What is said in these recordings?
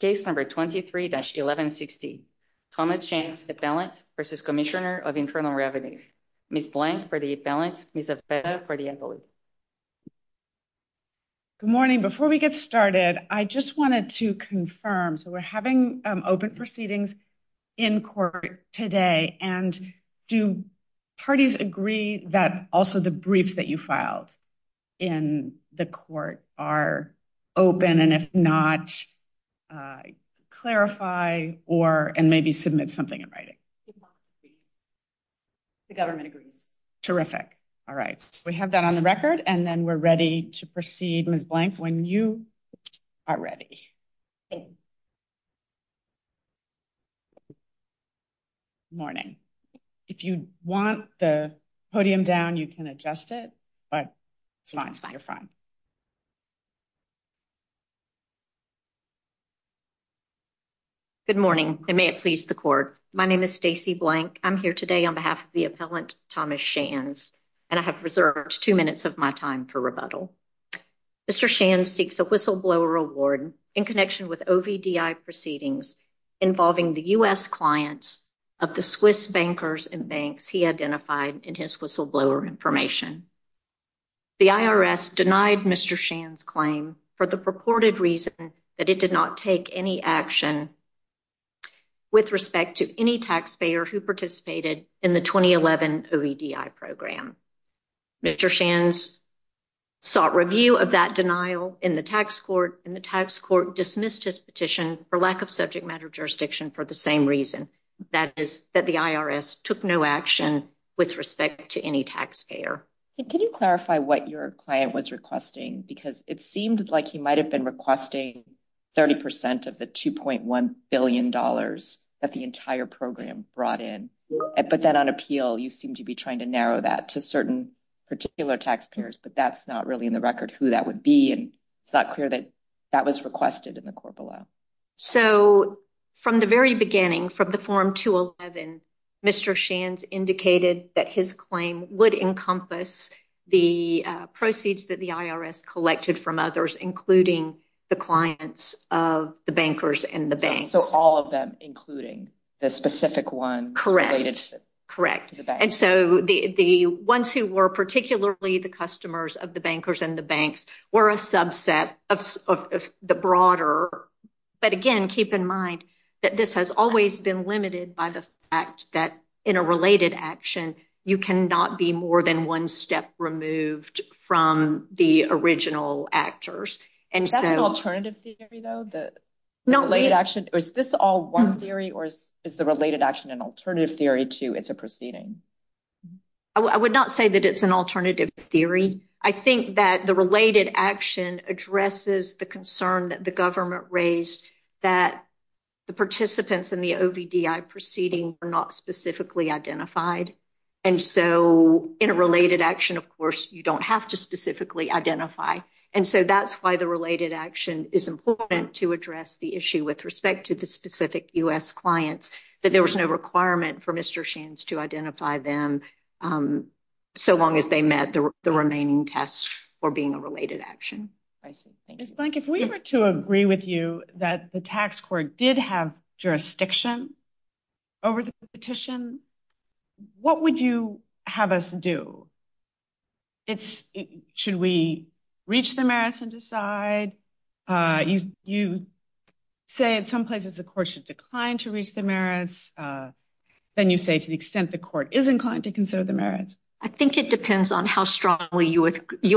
Case number 23-1160. Thomas Shands, Appellant v. Cmsnr of Infernal Revenues. Ms. Blank for the Appellant, Ms. Abella for the Invalid. Good morning. Before we get started, I just wanted to confirm. So we're having open proceedings in court today. And do parties agree that also the briefs that you filed in the court are open, and if not, clarify and maybe submit something in writing? The government agrees. Terrific. All right. We have that on the record, and then we're ready to proceed, Ms. Blank, when you are ready. Good morning. If you want the podium down, you can adjust it. Good morning, and may it please the court. My name is Stacy Blank. I'm here today on behalf of the Appellant, Thomas Shands, and I have reserved two minutes of my time for rebuttal. Mr. Shands seeks a whistleblower award in connection with OVDI proceedings involving the U.S. clients of the Swiss bankers and banks he identified in his whistleblower information. The IRS denied Mr. Shands' claim for the purported reason that it did not take any action with respect to any taxpayer who participated in the 2011 OVDI program. Mr. Shands sought review of that denial in the tax court, and the tax court dismissed his petition for lack of subject matter jurisdiction for the same reason, that is, that the IRS took no action with respect to any taxpayer. Could you clarify what your client was requesting? Because it seemed like he might have been requesting 30% of the $2.1 billion that the entire program brought in. I put that on appeal. You seem to be trying to narrow that to certain particular taxpayers, but that's not really in the record who that would be, and it's not clear that that was requested in the court below. So from the very beginning, from the Form 211, Mr. Shands indicated that his claim would encompass the proceeds that the IRS collected from others, including the clients of the bankers and the banks. And so all of them, including the specific one? Correct. Correct. And so the ones who were particularly the customers of the bankers and the banks were a subset of the broader, but again, keep in mind that this has always been limited by the fact that in a related action, you cannot be more than one step removed from the original actors. Is that an alternative theory, though? Is this all one theory, or is the related action an alternative theory to it's a proceeding? I would not say that it's an alternative theory. I think that the related action addresses the concern that the government raised that the participants in the OVDI proceeding were not specifically identified. And so in a related action, of course, you don't have to specifically identify. And so that's why the related action is important to address the issue with respect to the specific U.S. clients that there was no requirement for Mr. Shands to identify them. So long as they met the remaining tests for being a related action. If we were to agree with you that the tax court did have jurisdiction over the petition, what would you have us do? Should we reach the merits and decide? You say in some places the court should decline to reach the merits. Then you say to the extent the court is inclined to consider the merits. I think it depends on how strongly you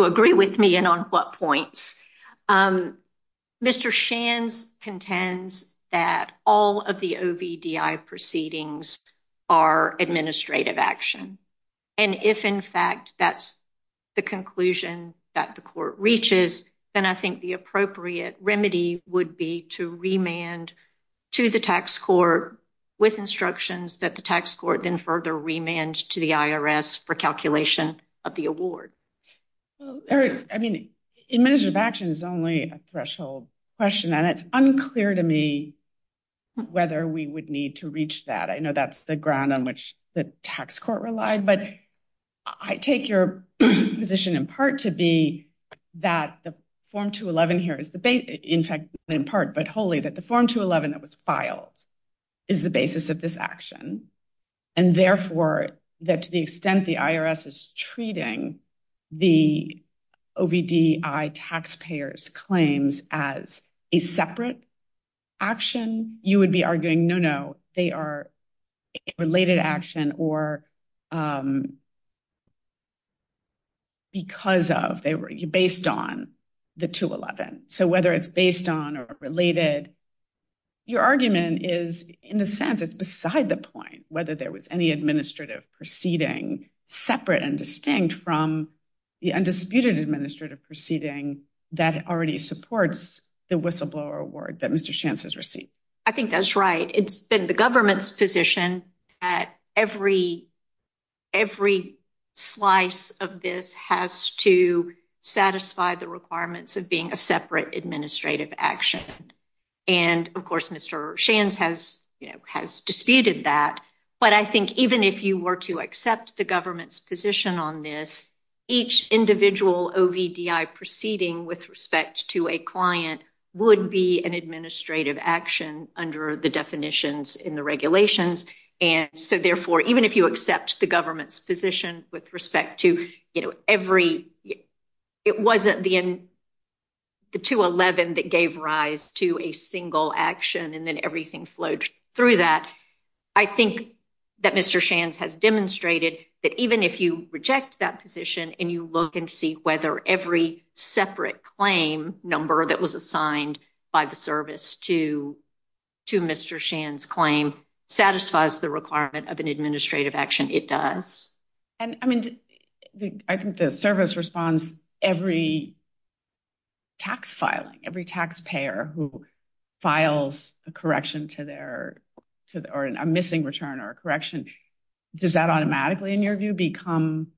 agree with me and on what points. Mr. Shands contends that all of the OVDI proceedings are administrative action. And if, in fact, that's the conclusion that the court reaches, then I think the appropriate remedy would be to remand to the tax court with instructions that the tax court then further remand to the IRS for calculation of the award. Administrative action is only a threshold question, and it's unclear to me whether we would need to reach that. I know that's the ground on which the tax court relied. But I take your position in part to be that the Form 211 here is the base. In fact, in part, but wholly, that the Form 211 that was filed is the basis of this action. And therefore, that to the extent the IRS is treating the OVDI taxpayers' claims as a separate action, you would be arguing, no, no, they are a related action or because of, based on the 211. So whether it's based on or related, your argument is, in a sense, it's beside the point whether there was any administrative proceeding separate and distinct from the undisputed administrative proceeding that already supports the whistleblower award that Mr. Shands has received. I think that's right. It's been the government's position that every slice of this has to satisfy the requirements of being a separate administrative action. And, of course, Mr. Shands has disputed that. But I think even if you were to accept the government's position on this, each individual OVDI proceeding with respect to a client would be an administrative action under the definitions in the regulations. And so, therefore, even if you accept the government's position with respect to every, it wasn't the 211 that gave rise to a single action and then everything flowed through that. I think that Mr. Shands has demonstrated that even if you reject that position and you look and see whether every separate claim number that was assigned by the service to Mr. Shands' claim satisfies the requirement of an administrative action, it does. I mean, I think the service responds every tax filing, every taxpayer who files a correction to their, or a missing return or a correction, does that automatically, in your view, become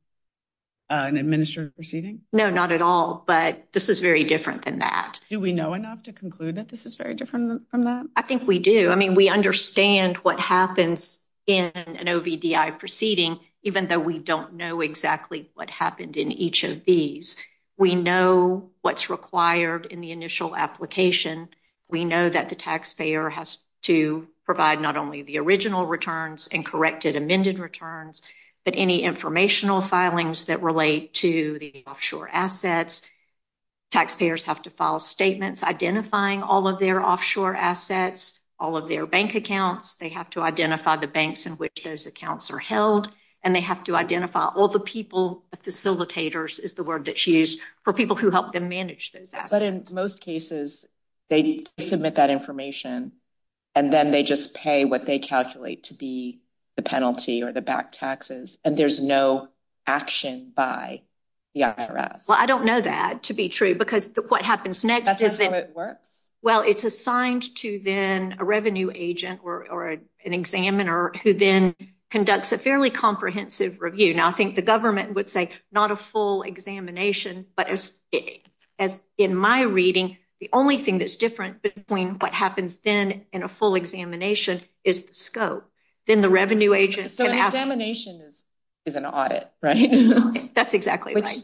an administrative proceeding? No, not at all. But this is very different than that. Do we know enough to conclude that this is very different from that? I think we do. I mean, we understand what happens in an OVDI proceeding, even though we don't know exactly what happened in each of these. We know what's required in the initial application. We know that the taxpayer has to provide not only the original returns and corrected amended returns, but any informational filings that relate to the offshore assets. Taxpayers have to file statements identifying all of their offshore assets, all of their bank accounts. They have to identify the banks in which those accounts are held, and they have to identify all the people, facilitators is the word that's used, for people who help them manage those assets. But in most cases, they submit that information, and then they just pay what they calculate to be the penalty or the back taxes, and there's no action by the IRS. Well, I don't know that to be true, because what happens next is that... That's not how it works? Well, it's assigned to then a revenue agent or an examiner who then conducts a fairly comprehensive review. Now, I think the government would say not a full examination, but as in my reading, the only thing that's different between what happens then and a full examination is the scope. Then the revenue agent... So an examination is an audit, right? That's exactly right.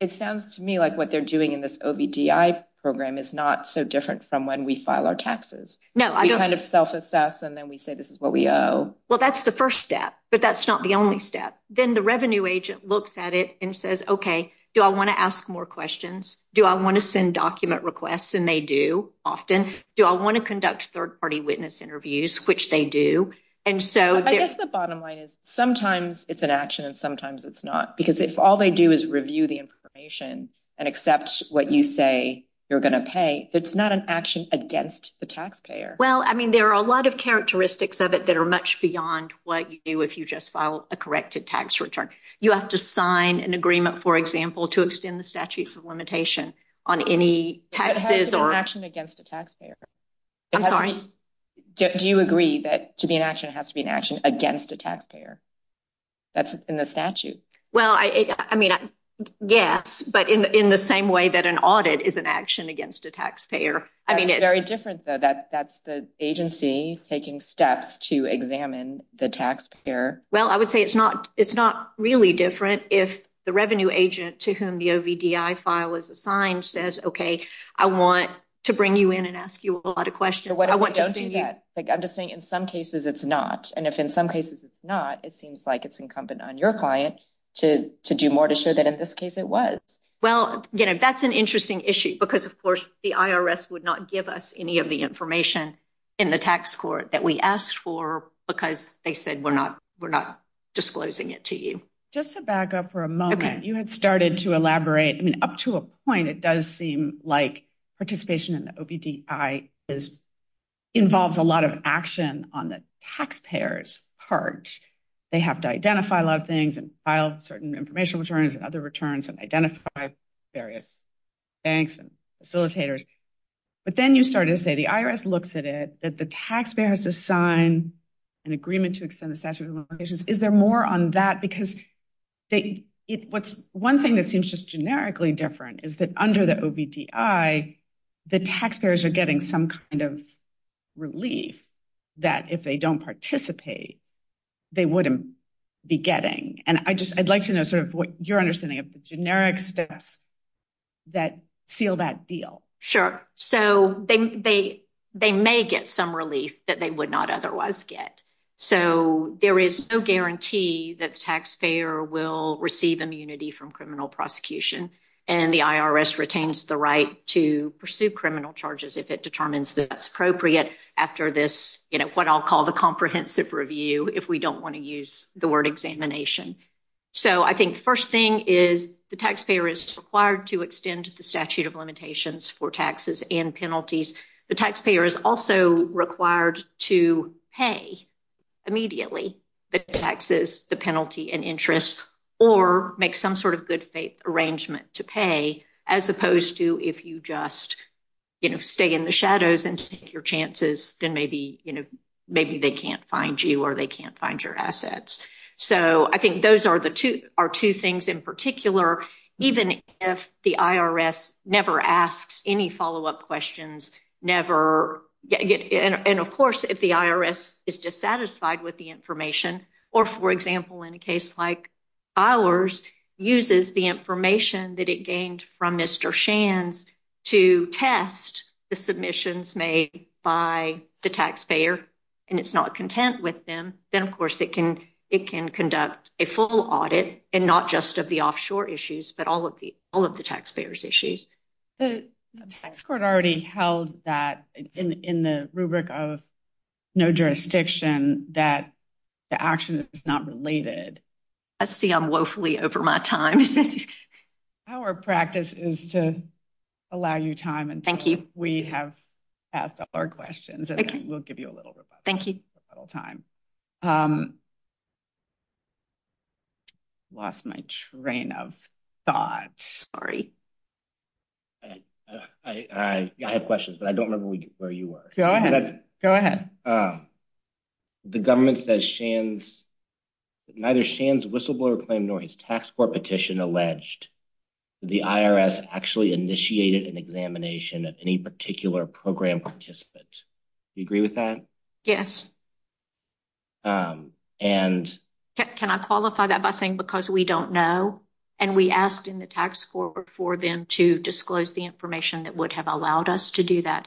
It sounds to me like what they're doing in this OBDI program is not so different from when we file our taxes. No, I don't... We kind of self-assess, and then we say this is what we owe. Well, that's the first step, but that's not the only step. Then the revenue agent looks at it and says, okay, do I want to ask more questions? Do I want to send document requests? And they do, often. Do I want to conduct third-party witness interviews? Which they do. I guess the bottom line is sometimes it's an action and sometimes it's not, because if all they do is review the information and accept what you say you're going to pay, it's not an action against the taxpayer. Well, I mean, there are a lot of characteristics of it that are much beyond what you do if you just file a corrected tax return. You have to sign an agreement, for example, to extend the statute of limitation on any taxes or... It has to be an action against the taxpayer. I'm sorry? Do you agree that to be an action, it has to be an action against a taxpayer? That's in the statute. Well, I mean, yes, but in the same way that an audit is an action against a taxpayer. That's very different, though. That's the agency taking steps to examine the taxpayer. Well, I would say it's not really different if the revenue agent to whom the OVDI file was assigned says, okay, I want to bring you in and ask you a lot of questions. Don't do that. I'm just saying in some cases it's not. And if in some cases it's not, it seems like it's incumbent on your client to do more to show that in this case it was. Well, that's an interesting issue because, of course, the IRS would not give us any of the information in the tax court that we asked for because they said we're not disclosing it to you. Just to back up for a moment, you had started to elaborate, and up to a point it does seem like participation in the OVDI involves a lot of action on the taxpayer's part. They have to identify a lot of things and file certain information returns and other returns and identify various banks and facilitators. But then you started to say the IRS looks at it, that the taxpayer has to sign an agreement to extend the statute of limitations. Is there more on that? Because one thing that seems just generically different is that under the OVDI, the taxpayers are getting some kind of relief that if they don't participate, they wouldn't be getting. And I'd like to know sort of what your understanding of the generics that seal that deal. Sure. So they may get some relief that they would not otherwise get. So there is no guarantee that the taxpayer will receive immunity from criminal prosecution. And the IRS retains the right to pursue criminal charges if it determines that that's appropriate after this, what I'll call the comprehensive review, if we don't want to use the word examination. So I think first thing is the taxpayer is required to extend the statute of limitations for taxes and penalties. The taxpayer is also required to pay immediately the taxes, the penalty and interest, or make some sort of good arrangement to pay, as opposed to if you just stay in the shadows and take your chances, then maybe they can't find you or they can't find your assets. So I think those are the two things in particular, even if the IRS never asks any follow-up questions, never. And, of course, if the IRS is dissatisfied with the information, or, for example, in a case like filers uses the information that it gained from Mr. Shands to test the submissions made by the taxpayer, and it's not content with them. Then, of course, it can conduct a full audit and not just of the offshore issues, but all of the all of the taxpayers issues. The court already held that in the rubric of no jurisdiction that the action is not related. I see I'm woefully over my time. Our practice is to allow you time. And thank you. We have asked our questions and we'll give you a little bit. Thank you. Lost my train of thought. Sorry. I have questions, but I don't know where you are. Go ahead. Go ahead. The government that shans neither shans whistleblower claim, nor his tax petition alleged the IRS actually initiated an examination of any particular program participants. You agree with that? Yes. And can I qualify that by saying, because we don't know and we asked in the tax forward for them to disclose the information that would have allowed us to do that.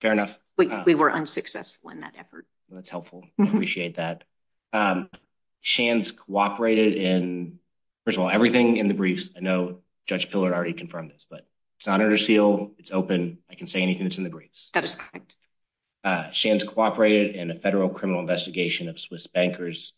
Fair enough. We were unsuccessful in that effort. That's helpful. Appreciate that. Shans cooperated in everything in the briefs. I know Judge Pillar already confirmed this, but it's not under seal. It's open. I can say anything that's in the briefs. Shans cooperated in a federal criminal investigation of Swiss bankers.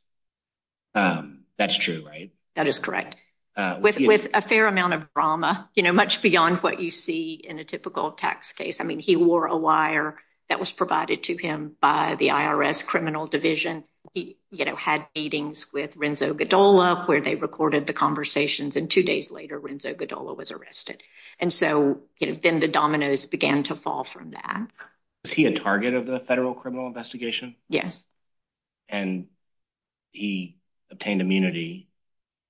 That's true, right? That is correct. With a fair amount of drama, much beyond what you see in a typical tax case. I mean, he wore a wire that was provided to him by the IRS criminal division. He had meetings with Renzo Godola where they recorded the conversations and two days later, Renzo Godola was arrested. And so it has been the dominoes began to fall from that. Is he a target of the federal criminal investigation? Yes. And he obtained immunity.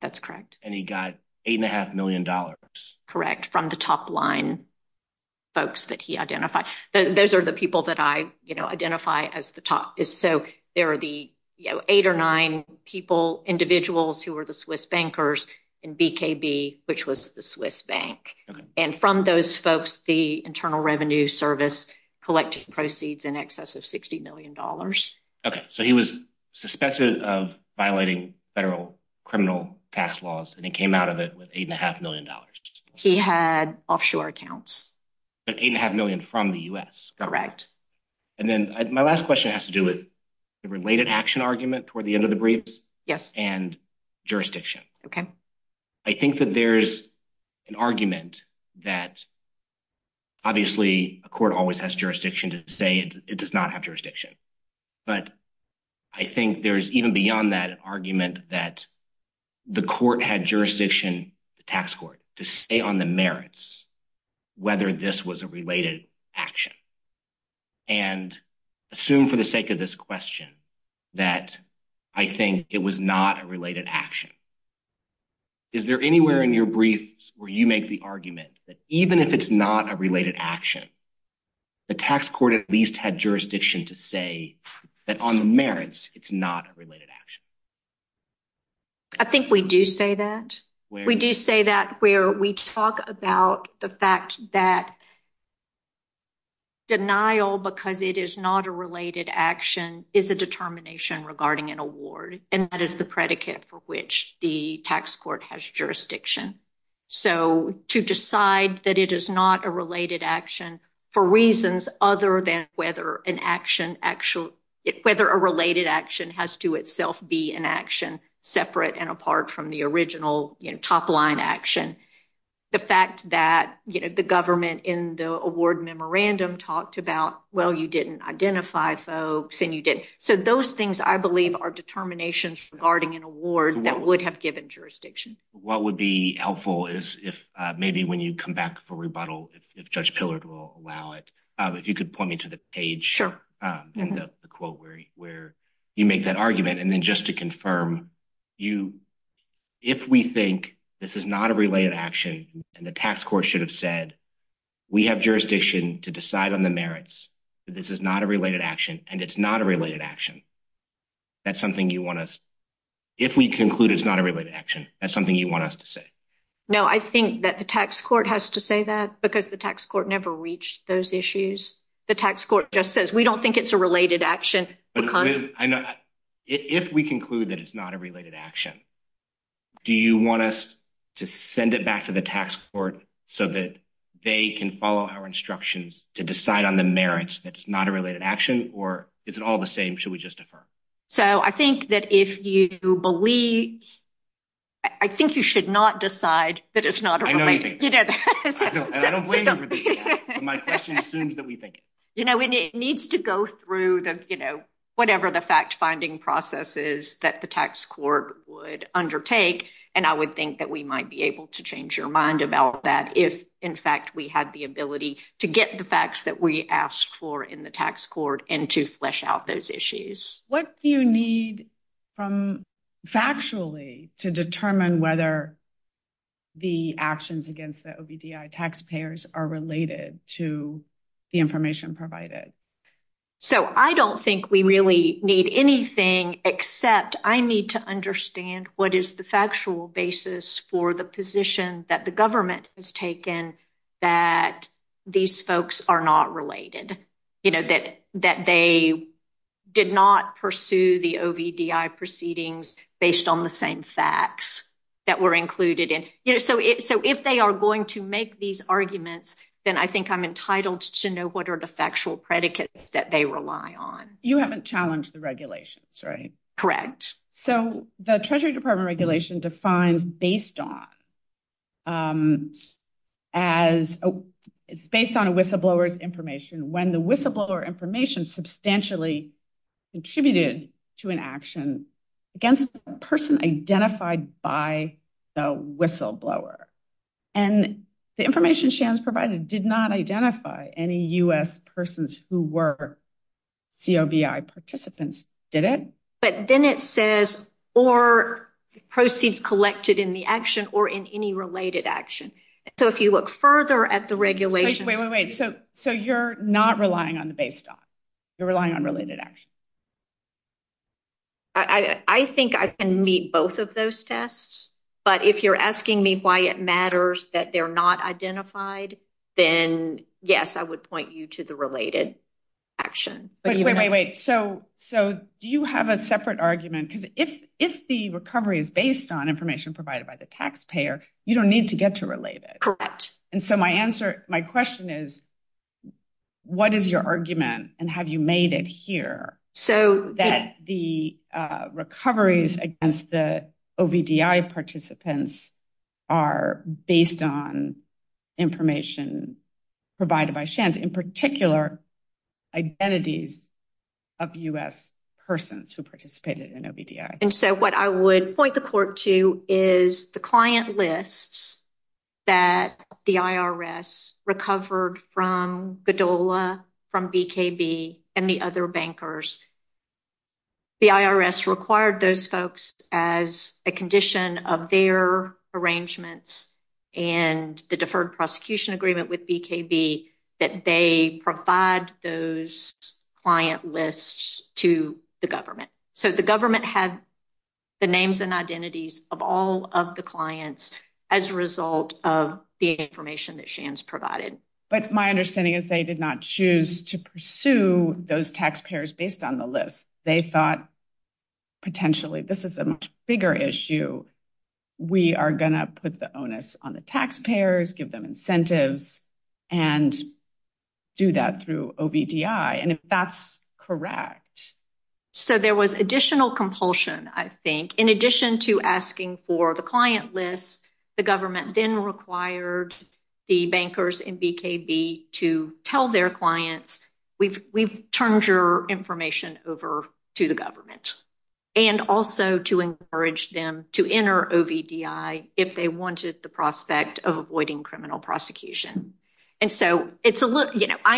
That's correct. And he got eight and a half million dollars. Correct. From the top line folks that he identified. Those are the people that I identify as the top. So there are the eight or nine people, individuals who are the Swiss bankers and BKB, which was the Swiss bank. And from those folks, the Internal Revenue Service collecting proceeds in excess of 60 million dollars. OK, so he was suspected of violating federal criminal tax laws and he came out of it with eight and a half million dollars. He had offshore accounts. Eight and a half million from the U.S. Correct. And then my last question has to do with the related action argument toward the end of the brief. Yes. And jurisdiction. OK. I think that there's an argument that. Obviously, a court always has jurisdiction to say it does not have jurisdiction. But I think there's even beyond that argument that the court had jurisdiction, the tax court to stay on the merits. Whether this was a related action. And assume for the sake of this question that I think it was not a related action. Is there anywhere in your briefs where you make the argument that even if it's not a related action. The tax court at least had jurisdiction to say that on the merits, it's not a related action. I think we do say that we do say that where we talk about the fact that. Denial because it is not a related action is a determination regarding an award, and that is the predicate for which the tax court has jurisdiction. So to decide that it is not a related action for reasons other than whether an action actual whether a related action has to itself be an action separate and apart from the original top line action. The fact that the government in the award memorandum talked about, well, you didn't identify folks and you did. So those things, I believe, are determinations regarding an award that would have given jurisdiction. What would be helpful is if maybe when you come back for rebuttal, if Judge Pillard will allow it. If you could point me to the page in the quote where you make that argument. And then just to confirm, if we think this is not a related action and the tax court should have said, we have jurisdiction to decide on the merits. This is not a related action and it's not a related action. That's something you want to, if we conclude it's not a related action, that's something you want us to say. No, I think that the tax court has to say that because the tax court never reached those issues. The tax court just says we don't think it's a related action. If we conclude that it's not a related action. Do you want us to send it back to the tax court so that they can follow our instructions to decide on the merits? It's not a related action or is it all the same? Should we just defer? So I think that if you believe, I think you should not decide that it's not. You know, it needs to go through the, you know, whatever the fact finding processes that the tax court would undertake. And I would think that we might be able to change your mind about that. If, in fact, we had the ability to get the facts that we asked for in the tax court and to flesh out those issues. What do you need from factually to determine whether the actions against the OBDI taxpayers are related to the information provided? So, I don't think we really need anything except I need to understand what is the factual basis for the position that the government has taken that these folks are not related. You know, that they did not pursue the OBDI proceedings based on the same facts that were included in. So, if they are going to make these arguments, then I think I'm entitled to know what are the factual predicates that they rely on. You haven't challenged the regulations, right? Correct. So, the Treasury Department regulation defined based on whistleblower's information when the whistleblower information substantially contributed to an action against a person identified by the whistleblower. And the information Shams provided did not identify any U.S. persons who were COBI participants, did it? But then it says, or proceeds collected in the action or in any related action. So, if you look further at the regulation. Wait, wait, wait. So, you're not relying on the baseline? You're relying on related action? I think I can meet both of those tests. But if you're asking me why it matters that they're not identified, then yes, I would point you to the related action. Wait, wait, wait. So, do you have a separate argument? Because if the recovery is based on information provided by the taxpayer, you don't need to get to related. Correct. And so, my answer, my question is, what is your argument? And have you made it here? That the recoveries against the OBDI participants are based on information provided by Shams. In particular, identities of U.S. persons who participated in OBDI. And so, what I would point the court to is the client lists that the IRS recovered from Godola, from BKB, and the other bankers. The IRS required those folks as a condition of their arrangements and the deferred prosecution agreement with BKB that they provide those client lists to the government. So, the government had the names and identities of all of the clients as a result of the information that Shams provided. But my understanding is they did not choose to pursue those taxpayers based on the list. They thought, potentially, this is a much bigger issue. We are going to put the onus on the taxpayers, give them incentives, and do that through OBDI. And if that's correct. So, there was additional compulsion, I think. In addition to asking for the client lists, the government then required the bankers in BKB to tell their clients, we've turned your information over to the government. And also to encourage them to enter OBDI if they wanted the prospect of avoiding criminal prosecution. I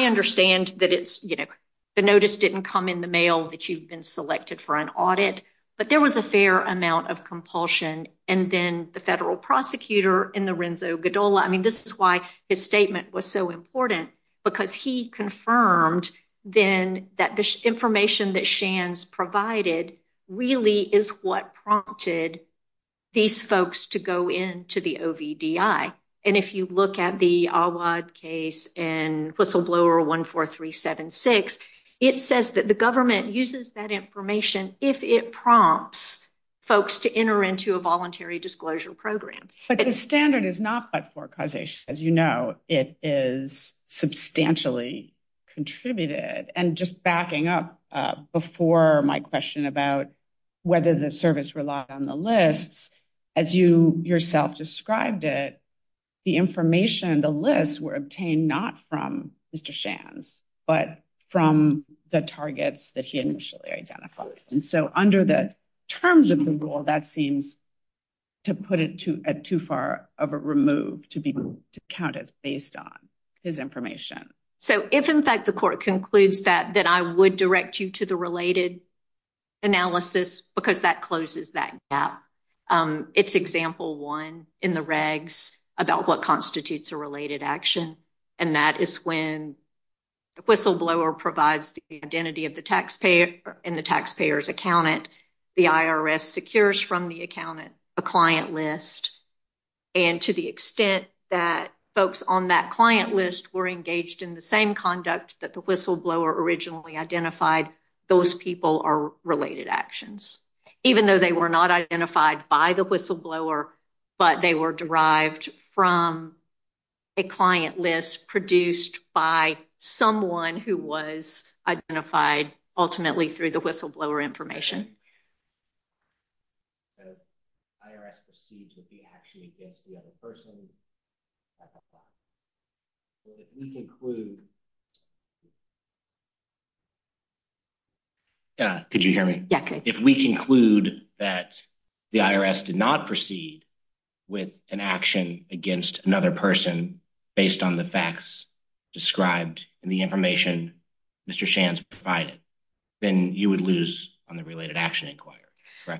understand that the notice didn't come in the mail that you've been selected for an audit. But there was a fair amount of compulsion. And then the federal prosecutor in the Renzo Godola, I mean, this is why his statement was so important. Because he confirmed then that the information that Shams provided really is what prompted these folks to go into the OBDI. And if you look at the Awad case in Whistleblower 14376, it says that the government uses that information if it prompts folks to enter into a voluntary disclosure program. But the standard is not by forecausation, as you know. It is substantially contributed. And just backing up before my question about whether the service relied on the lists, as you yourself described it, the information, the lists were obtained not from Mr. Shams, but from the targets that he initially identified. And so under the terms of the rule, that seems to put it too far of a remove to be counted based on his information. So if, in fact, the court concludes that, then I would direct you to the related analysis because that closes that gap. It's example one in the regs about what constitutes a related action. And that is when Whistleblower provides the identity of the taxpayer and the taxpayer's accountant, the IRS secures from the accountant a client list. And to the extent that folks on that client list were engaged in the same conduct that the Whistleblower originally identified, those people are related actions. Even though they were not identified by the Whistleblower, but they were derived from a client list produced by someone who was identified ultimately through the Whistleblower information. If we conclude that the IRS did not proceed with an action against another person based on the facts described in the information Mr. Shams provided, then you would lose on the related analysis.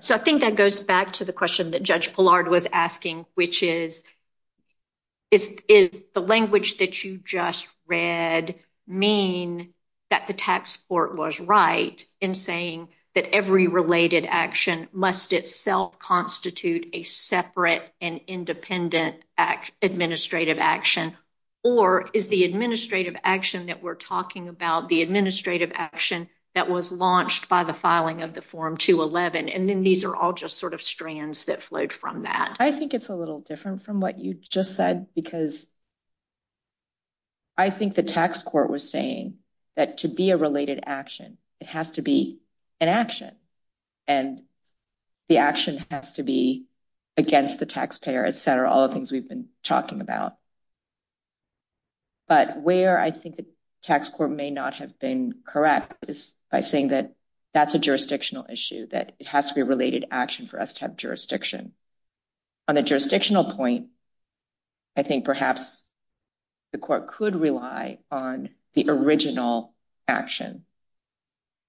So I think that goes back to the question that Judge Pollard was asking, which is, is the language that you just read mean that the tax court was right in saying that every related action must itself constitute a separate and independent administrative action? Or is the administrative action that we're talking about the administrative action that was launched by the filing of the Form 211 and then these are all just sort of strands that flowed from that? I think it's a little different from what you just said because I think the tax court was saying that to be a related action, it has to be an action. And the action has to be against the taxpayer, et cetera, all the things we've been talking about. But where I think the tax court may not have been correct is by saying that that's a jurisdictional issue, that it has to be a related action for us to have jurisdiction. On a jurisdictional point, I think perhaps the court could rely on the original action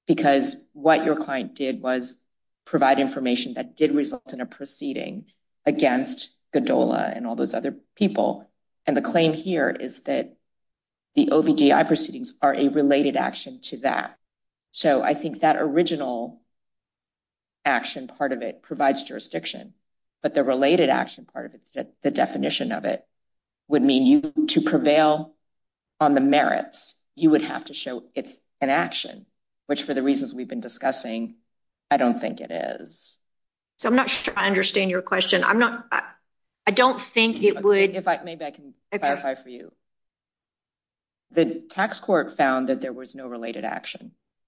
because what your client did was provide information that did result in a proceeding against GDOLA and all those other people. And the claim here is that the OBDI proceedings are a related action to that. So I think that original action part of it provides jurisdiction, but the related action part of it, the definition of it, would mean to prevail on the merits, you would have to show it's an action, which for the reasons we've been discussing, I don't think it is. So I'm not sure I understand your question. I don't think it would...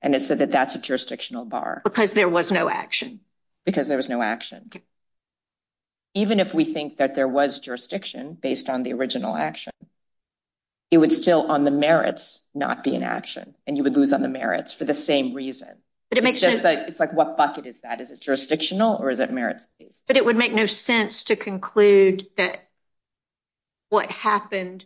And it said that that's a jurisdictional bar. Because there was no action. Because there was no action. Even if we think that there was jurisdiction based on the original action, it would still, on the merits, not be an action, and you would lose on the merits for the same reason. But it makes no... It's like, what bucket is that? Is it jurisdictional or is it merits? But it would make no sense to conclude that what happened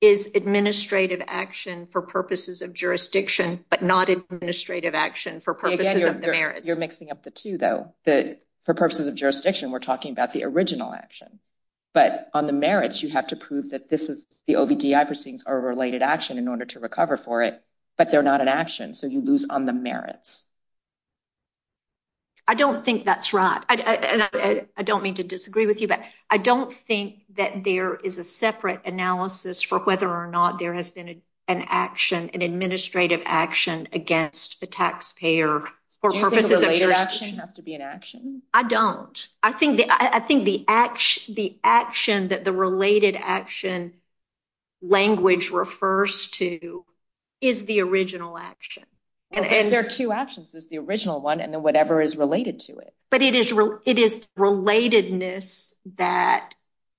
is administrative action for purposes of jurisdiction, but not administrative action for purposes of the merits. You're mixing up the two, though. For purposes of jurisdiction, we're talking about the original action. But on the merits, you have to prove that this is the OBDI proceedings are a related action in order to recover for it, but they're not an action, so you lose on the merits. I don't think that's right. And I don't mean to disagree with you, but I don't think that there is a separate analysis for whether or not there has been an action, an administrative action, against the taxpayer for purposes of jurisdiction. Doesn't the related action have to be an action? I don't. I think the action that the related action language refers to is the original action. There are two actions. There's the original one and then whatever is related to it. But it is relatedness that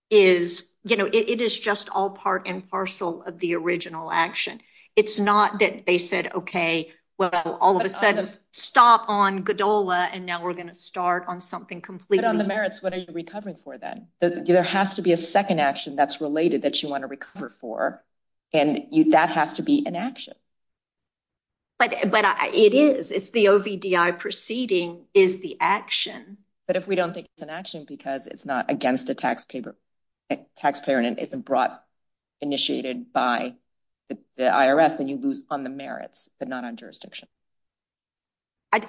is... It is just all part and parcel of the original action. It's not that they said, okay, well, all of a sudden, stop on GDOLA, and now we're going to start on something completely... But on the merits, what are you recovering for, then? There has to be a second action that's related that you want to recover for, and that has to be an action. But it is. It's the OVDI proceeding is the action. But if we don't think it's an action because it's not against the taxpayer and it's brought, initiated by the IRS, then you lose on the merits, but not on jurisdiction.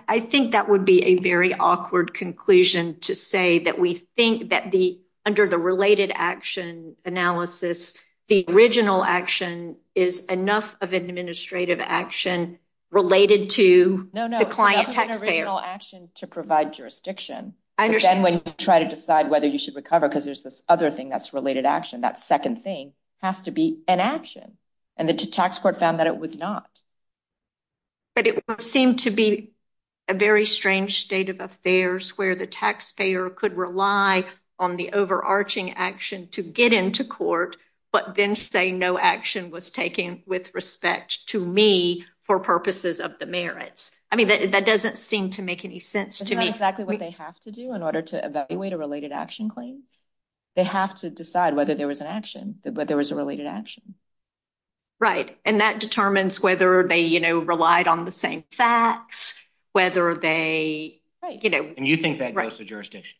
I think that would be a very awkward conclusion to say that we think that under the related action analysis, the original action is enough of administrative action related to the client taxpayer. No, no. It's not an original action to provide jurisdiction. I understand. But then when you try to decide whether you should recover because there's this other thing that's related action, that second thing has to be an action. And the tax court found that it was not. But it seemed to be a very strange state of affairs where the taxpayer could rely on the overarching action to get into court, but then say no action was taken with respect to me for purposes of the merits. I mean, that doesn't seem to make any sense to me. That's exactly what they have to do in order to evaluate a related action claim. They have to decide whether there was an action, that there was a related action. Right. And that determines whether they, you know, relied on the same facts, whether they, you know. And you think that goes to jurisdiction,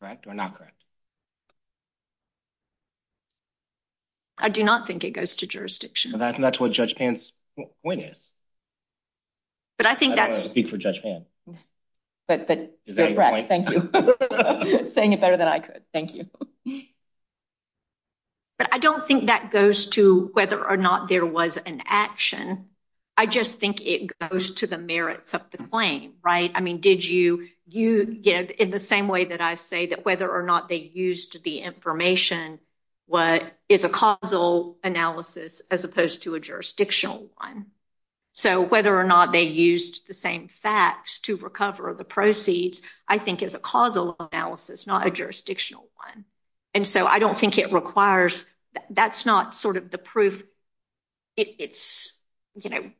correct or not correct? I do not think it goes to jurisdiction. That's what Judge Pant's point is. But I think that. I don't want to speak for Judge Pant. Right, thank you. You're saying it better than I could. Thank you. But I don't think that goes to whether or not there was an action. I just think it goes to the merits of the claim, right? I mean, did you, you know, in the same way that I say that whether or not they used the information, what is a causal analysis as opposed to a jurisdictional one. So whether or not they used the same facts to recover the proceeds, I think is a causal analysis, not a jurisdictional one. And so I don't think it requires, that's not sort of the proof. It's, you know,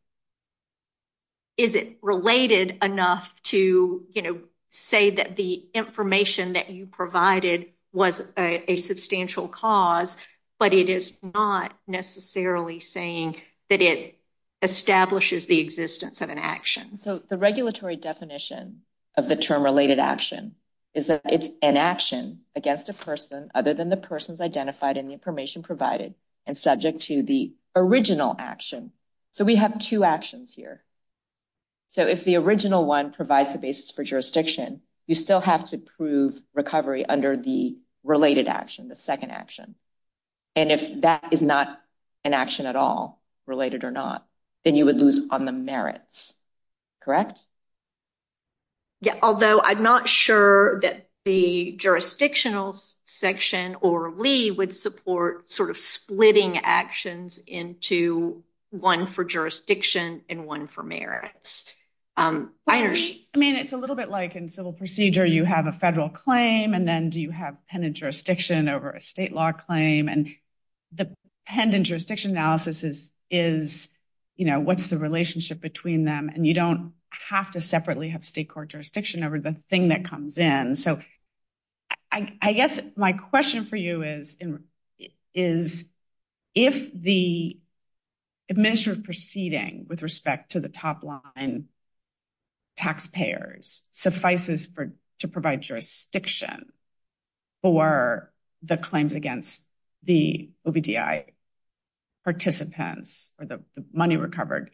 is it related enough to, you know, say that the information that you provided was a substantial cause, but it is not necessarily saying that it establishes the existence of an action. So the regulatory definition of the term related action is that it's an action against a person other than the person's identified in the information provided and subject to the original action. So we have two actions here. So if the original one provides the basis for jurisdiction, you still have to prove recovery under the related action, the second action. And if that is not an action at all, related or not, then you would lose on the merits, correct? Yeah, although I'm not sure that the jurisdictional section or LEA would support sort of splitting actions into one for jurisdiction and one for merits. I mean, it's a little bit like in civil procedure, you have a federal claim, and then do you have pen and jurisdiction over a state law claim? And the pen and jurisdiction analysis is, you know, what's the relationship between them? And you don't have to separately have state court jurisdiction over the thing that comes in. So I guess my question for you is, if the administrative proceeding with respect to the top line taxpayers suffices to provide jurisdiction for the claims against the OBDI participants or the money recovered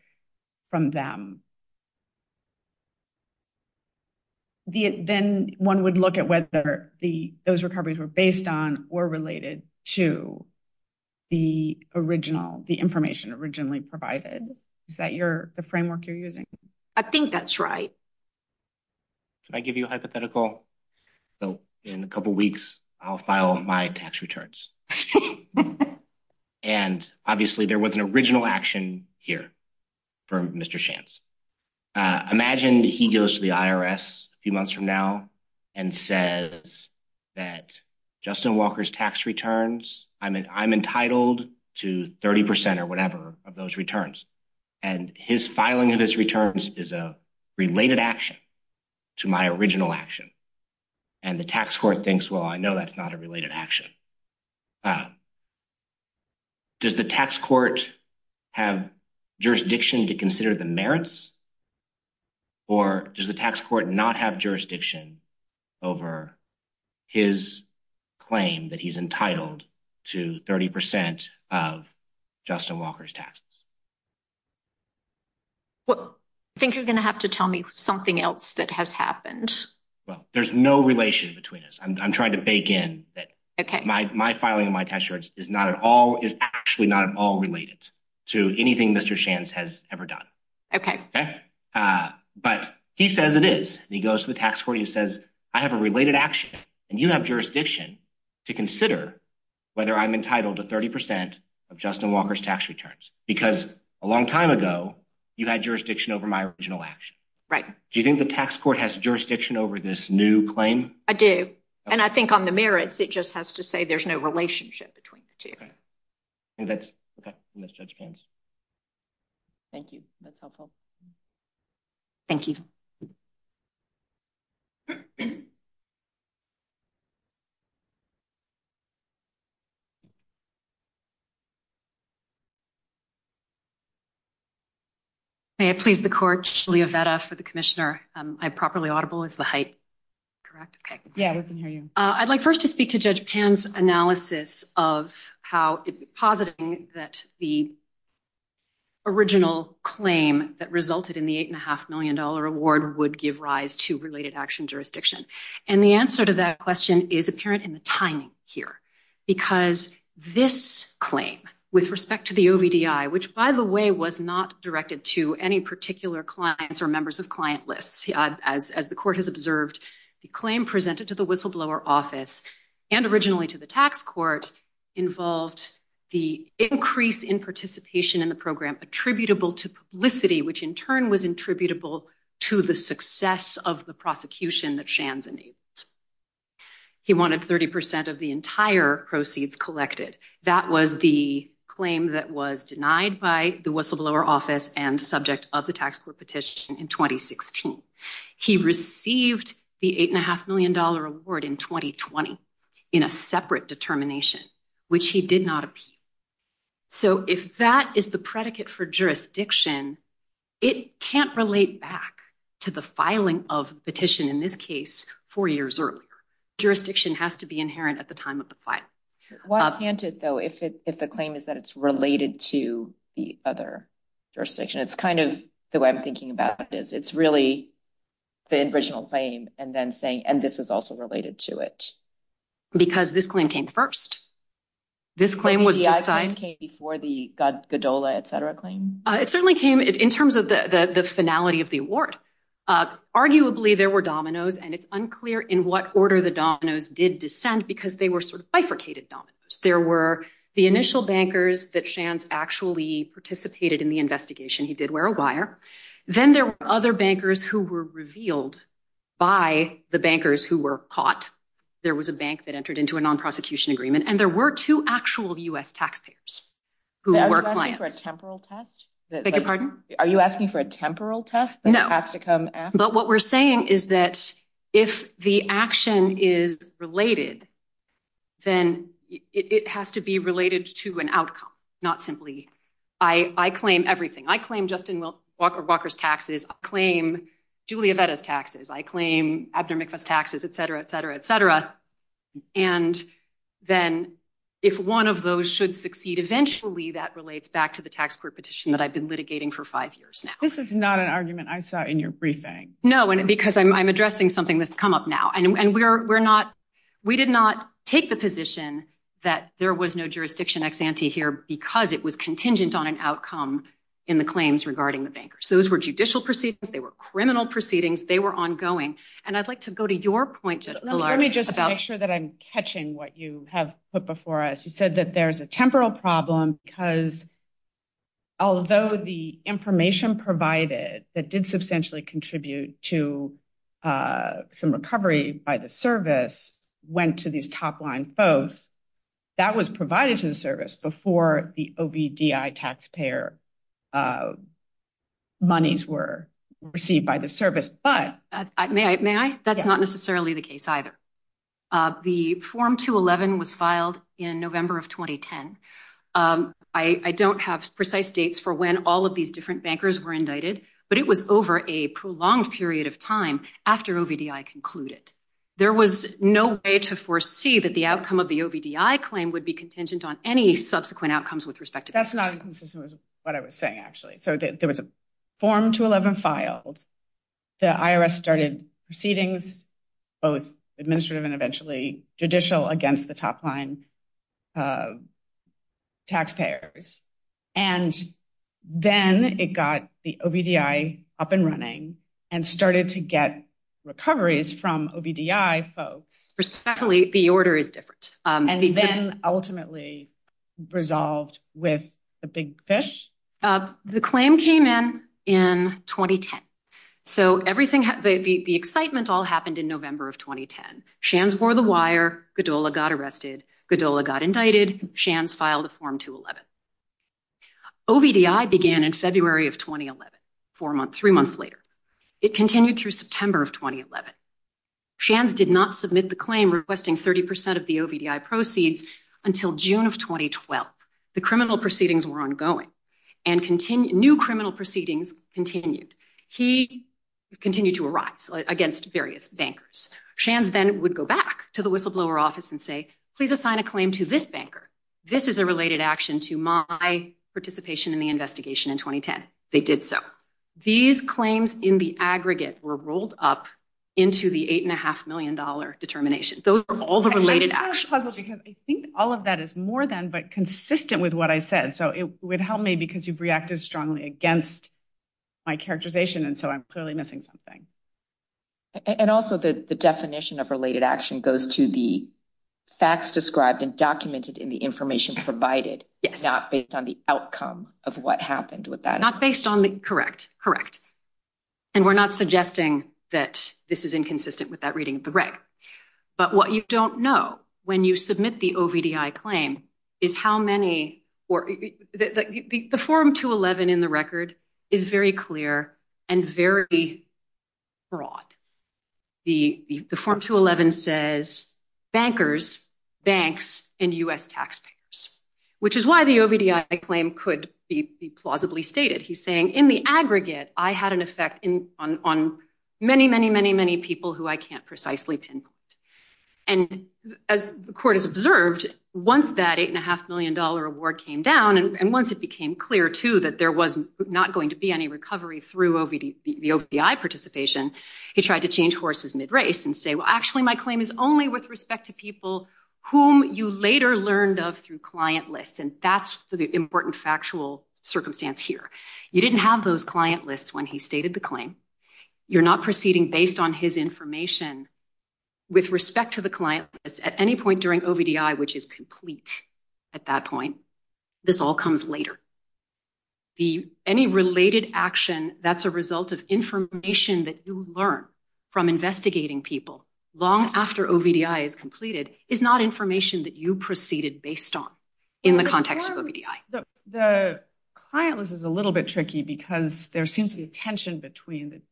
from them, then one would look at whether those recoveries were based on or related to the original, the information originally provided. Is that the framework you're using? I think that's right. Can I give you a hypothetical? So in a couple weeks, I'll file my tax returns. And obviously there was an original action here from Mr. Shance. Imagine he goes to the IRS a few months from now and says that Justin Walker's tax returns, I'm entitled to 30% or whatever of those returns. And his filing of his returns is a related action to my original action. And the tax court thinks, well, I know that's not a related action. Does the tax court have jurisdiction to consider the merits? Or does the tax court not have jurisdiction over his claim that he's entitled to 30% of Justin Walker's taxes? I think you're going to have to tell me something else that has happened. Well, there's no relation between us. I'm trying to bake in that my filing of my tax returns is actually not at all related to anything Mr. Shance has ever done. But he says it is. He goes to the tax court and he says, I have a related action, and you have jurisdiction to consider whether I'm entitled to 30% of Justin Walker's tax returns. Because a long time ago, you had jurisdiction over my original action. Do you think the tax court has jurisdiction over this new claim? I do. And I think on the merits, it just has to say there's no relationship between the two. And that's Judge Tan's. Thank you. That's helpful. Thank you. May it please the court, Leah Vetta for the commissioner. Am I properly audible? Is the height correct? Yeah, I can hear you. I'd like first to speak to Judge Tan's analysis of how, positing that the original claim that resulted in the $8.5 million award would give rise to related action jurisdiction. And the answer to that question is apparent in the timing here. Because this claim, with respect to the OBDI, which, by the way, was not directed to any particular clients or members of client lists. As the court has observed, the claim presented to the whistleblower office, and originally to the tax court, involved the increase in participation in the program attributable to publicity, which in turn was attributable to the success of the prosecution that Shance enabled. He wanted 30% of the entire proceeds collected. That was the claim that was denied by the whistleblower office and subject of the tax court petition in 2016. He received the $8.5 million award in 2020 in a separate determination, which he did not appeal. So if that is the predicate for jurisdiction, it can't relate back to the filing of the petition, in this case, four years earlier. Jurisdiction has to be inherent at the time of the filing. Well, if the claim is that it's related to the other jurisdiction, it's kind of the way I'm thinking about this. It's really the original claim, and this is also related to it. Because this claim came first. This claim came before the Godola, et cetera, claim? It certainly came in terms of the finality of the award. Arguably, there were dominoes, and it's unclear in what order the dominoes did descend because they were sort of bifurcated dominoes. There were the initial bankers that Shance actually participated in the investigation. He did wear a wire. Then there were other bankers who were revealed by the bankers who were caught. There was a bank that entered into a non-prosecution agreement, and there were two actual U.S. taxpayers who were clients. Are you asking for a temporal test? Beg your pardon? Are you asking for a temporal test that has to come after? No, but what we're saying is that if the action is related, then it has to be related to an outcome, not simply, I claim everything. I claim Justin Walker's taxes. I claim Julia Vetta's taxes. I claim Abner Mikvah's taxes, et cetera, et cetera, et cetera. Then if one of those should succeed, eventually that relates back to the tax court petition that I've been litigating for five years now. This is not an argument I saw in your briefing. No, because I'm addressing something that's come up now. We did not take the position that there was no jurisdiction ex ante here because it was contingent on an outcome in the claims regarding the bankers. Those were judicial proceedings. They were criminal proceedings. They were ongoing. And I'd like to go to your point. Let me just make sure that I'm catching what you have put before us. You said that there's a temporal problem because although the information provided that did substantially contribute to some recovery by the service went to these top line foes, that was provided to the service before the OBDI taxpayer monies were received by the service. May I? That's not necessarily the case either. The form 211 was filed in November of 2010. I don't have precise dates for when all of these different bankers were indicted, but it was over a prolonged period of time after OBDI concluded. There was no way to foresee that the outcome of the OBDI claim would be contingent on any subsequent outcomes with respect to that. That's not what I was saying, actually. There was a form 211 filed. The IRS started proceedings, both administrative and eventually judicial, against the top line taxpayers. And then it got the OBDI up and running and started to get recoveries from OBDI foes. Exactly. The order is different. And then ultimately resolved with the big fish? The claim came in in 2010. So the excitement all happened in November of 2010. Shands wore the wire. Godola got arrested. Godola got indicted. Shands filed a form 211. OBDI began in February of 2011, three months later. It continued through September of 2011. Shands did not submit the claim requesting 30% of the OBDI proceeds until June of 2012. The criminal proceedings were ongoing. New criminal proceedings continued. He continued to arrive against various bankers. Shands then would go back to the whistleblower office and say, please assign a claim to this banker. This is a related action to my participation in the investigation in 2010. They did so. These claims in the aggregate were rolled up into the $8.5 million determination. Those were all the related actions. I think all of that is more than but consistent with what I said. So it would help me because you've reacted strongly against my characterization, and so I'm clearly missing something. And also the definition of related action goes to the facts described and documented in the information provided, not based on the outcome of what happened with that. Correct. Correct. And we're not suggesting that this is inconsistent with that reading. Correct. But what you don't know when you submit the OBDI claim is how many or the form 211 in the record is very clear and very broad. The form 211 says bankers, banks, and U.S. taxpayers, which is why the OBDI claim could be plausibly stated. He's saying in the aggregate, I had an effect on many, many, many, many people who I can't precisely pinpoint. And as the court has observed, once that $8.5 million award came down, and once it became clear, too, that there was not going to be any recovery through the OBDI participation, he tried to change horses mid-race and say, well, actually, my claim is only with respect to people whom you later learned of through client lists, and that's the important factual circumstance here. You didn't have those client lists when he stated the claim. You're not proceeding based on his information with respect to the client list at any point during OBDI, which is complete at that point. This all comes later. Any related action that's a result of information that you learn from investigating people long after OBDI is completed is not information that you proceeded based on in the context of OBDI. The client list is a little bit tricky because there seems to be a tension between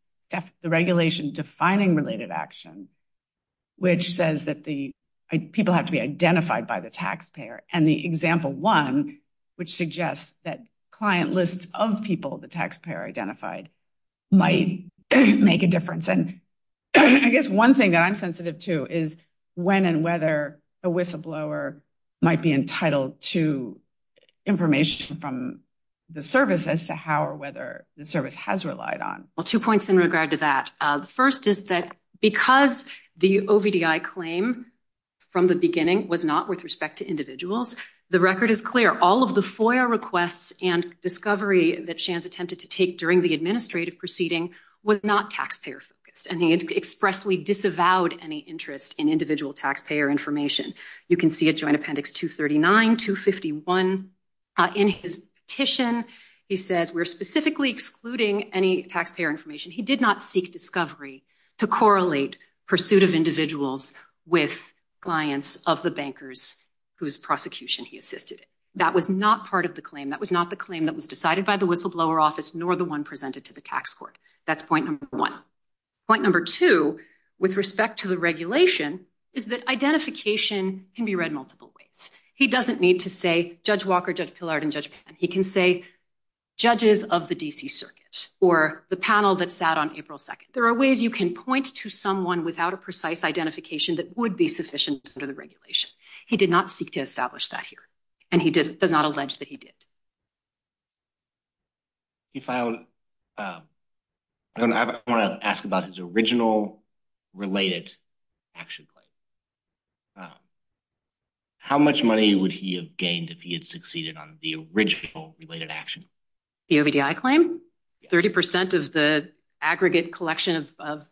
the regulation defining related action, which says that people have to be identified by the taxpayer, and the example one, which suggests that client lists of people the taxpayer identified might make a difference. I guess one thing that I'm sensitive to is when and whether a whistleblower might be entitled to information from the service as to how or whether the service has relied on. Well, two points in regard to that. The first is that because the OBDI claim from the beginning was not with respect to individuals, the record is clear. All of the FOIA requests and discovery that Shands attempted to take during the administrative proceeding was not taxpayer-focused, and he expressly disavowed any interest in individual taxpayer information. You can see at Joint Appendix 239, 251 in his petition, he says, we're specifically excluding any taxpayer information. He did not seek discovery to correlate pursuit of individuals with clients of the bankers whose prosecution he assisted in. That was not part of the claim. That was not the claim that was decided by the whistleblower office, nor the one presented to the tax court. That's point number one. Point number two, with respect to the regulation, is that identification can be read multiple ways. He doesn't need to say, Judge Walker, Judge Pillard, and Judge Penn. He can say, judges of the D.C. Circuit, or the panel that sat on April 2nd. There are ways you can point to someone without a precise identification that would be sufficient under the regulation. He did not seek to establish that here, and he does not allege that he did. He found, I want to ask about his original related action claim. How much money would he have gained if he had succeeded on the original related action? The OVDI claim? 30% of the aggregate collection of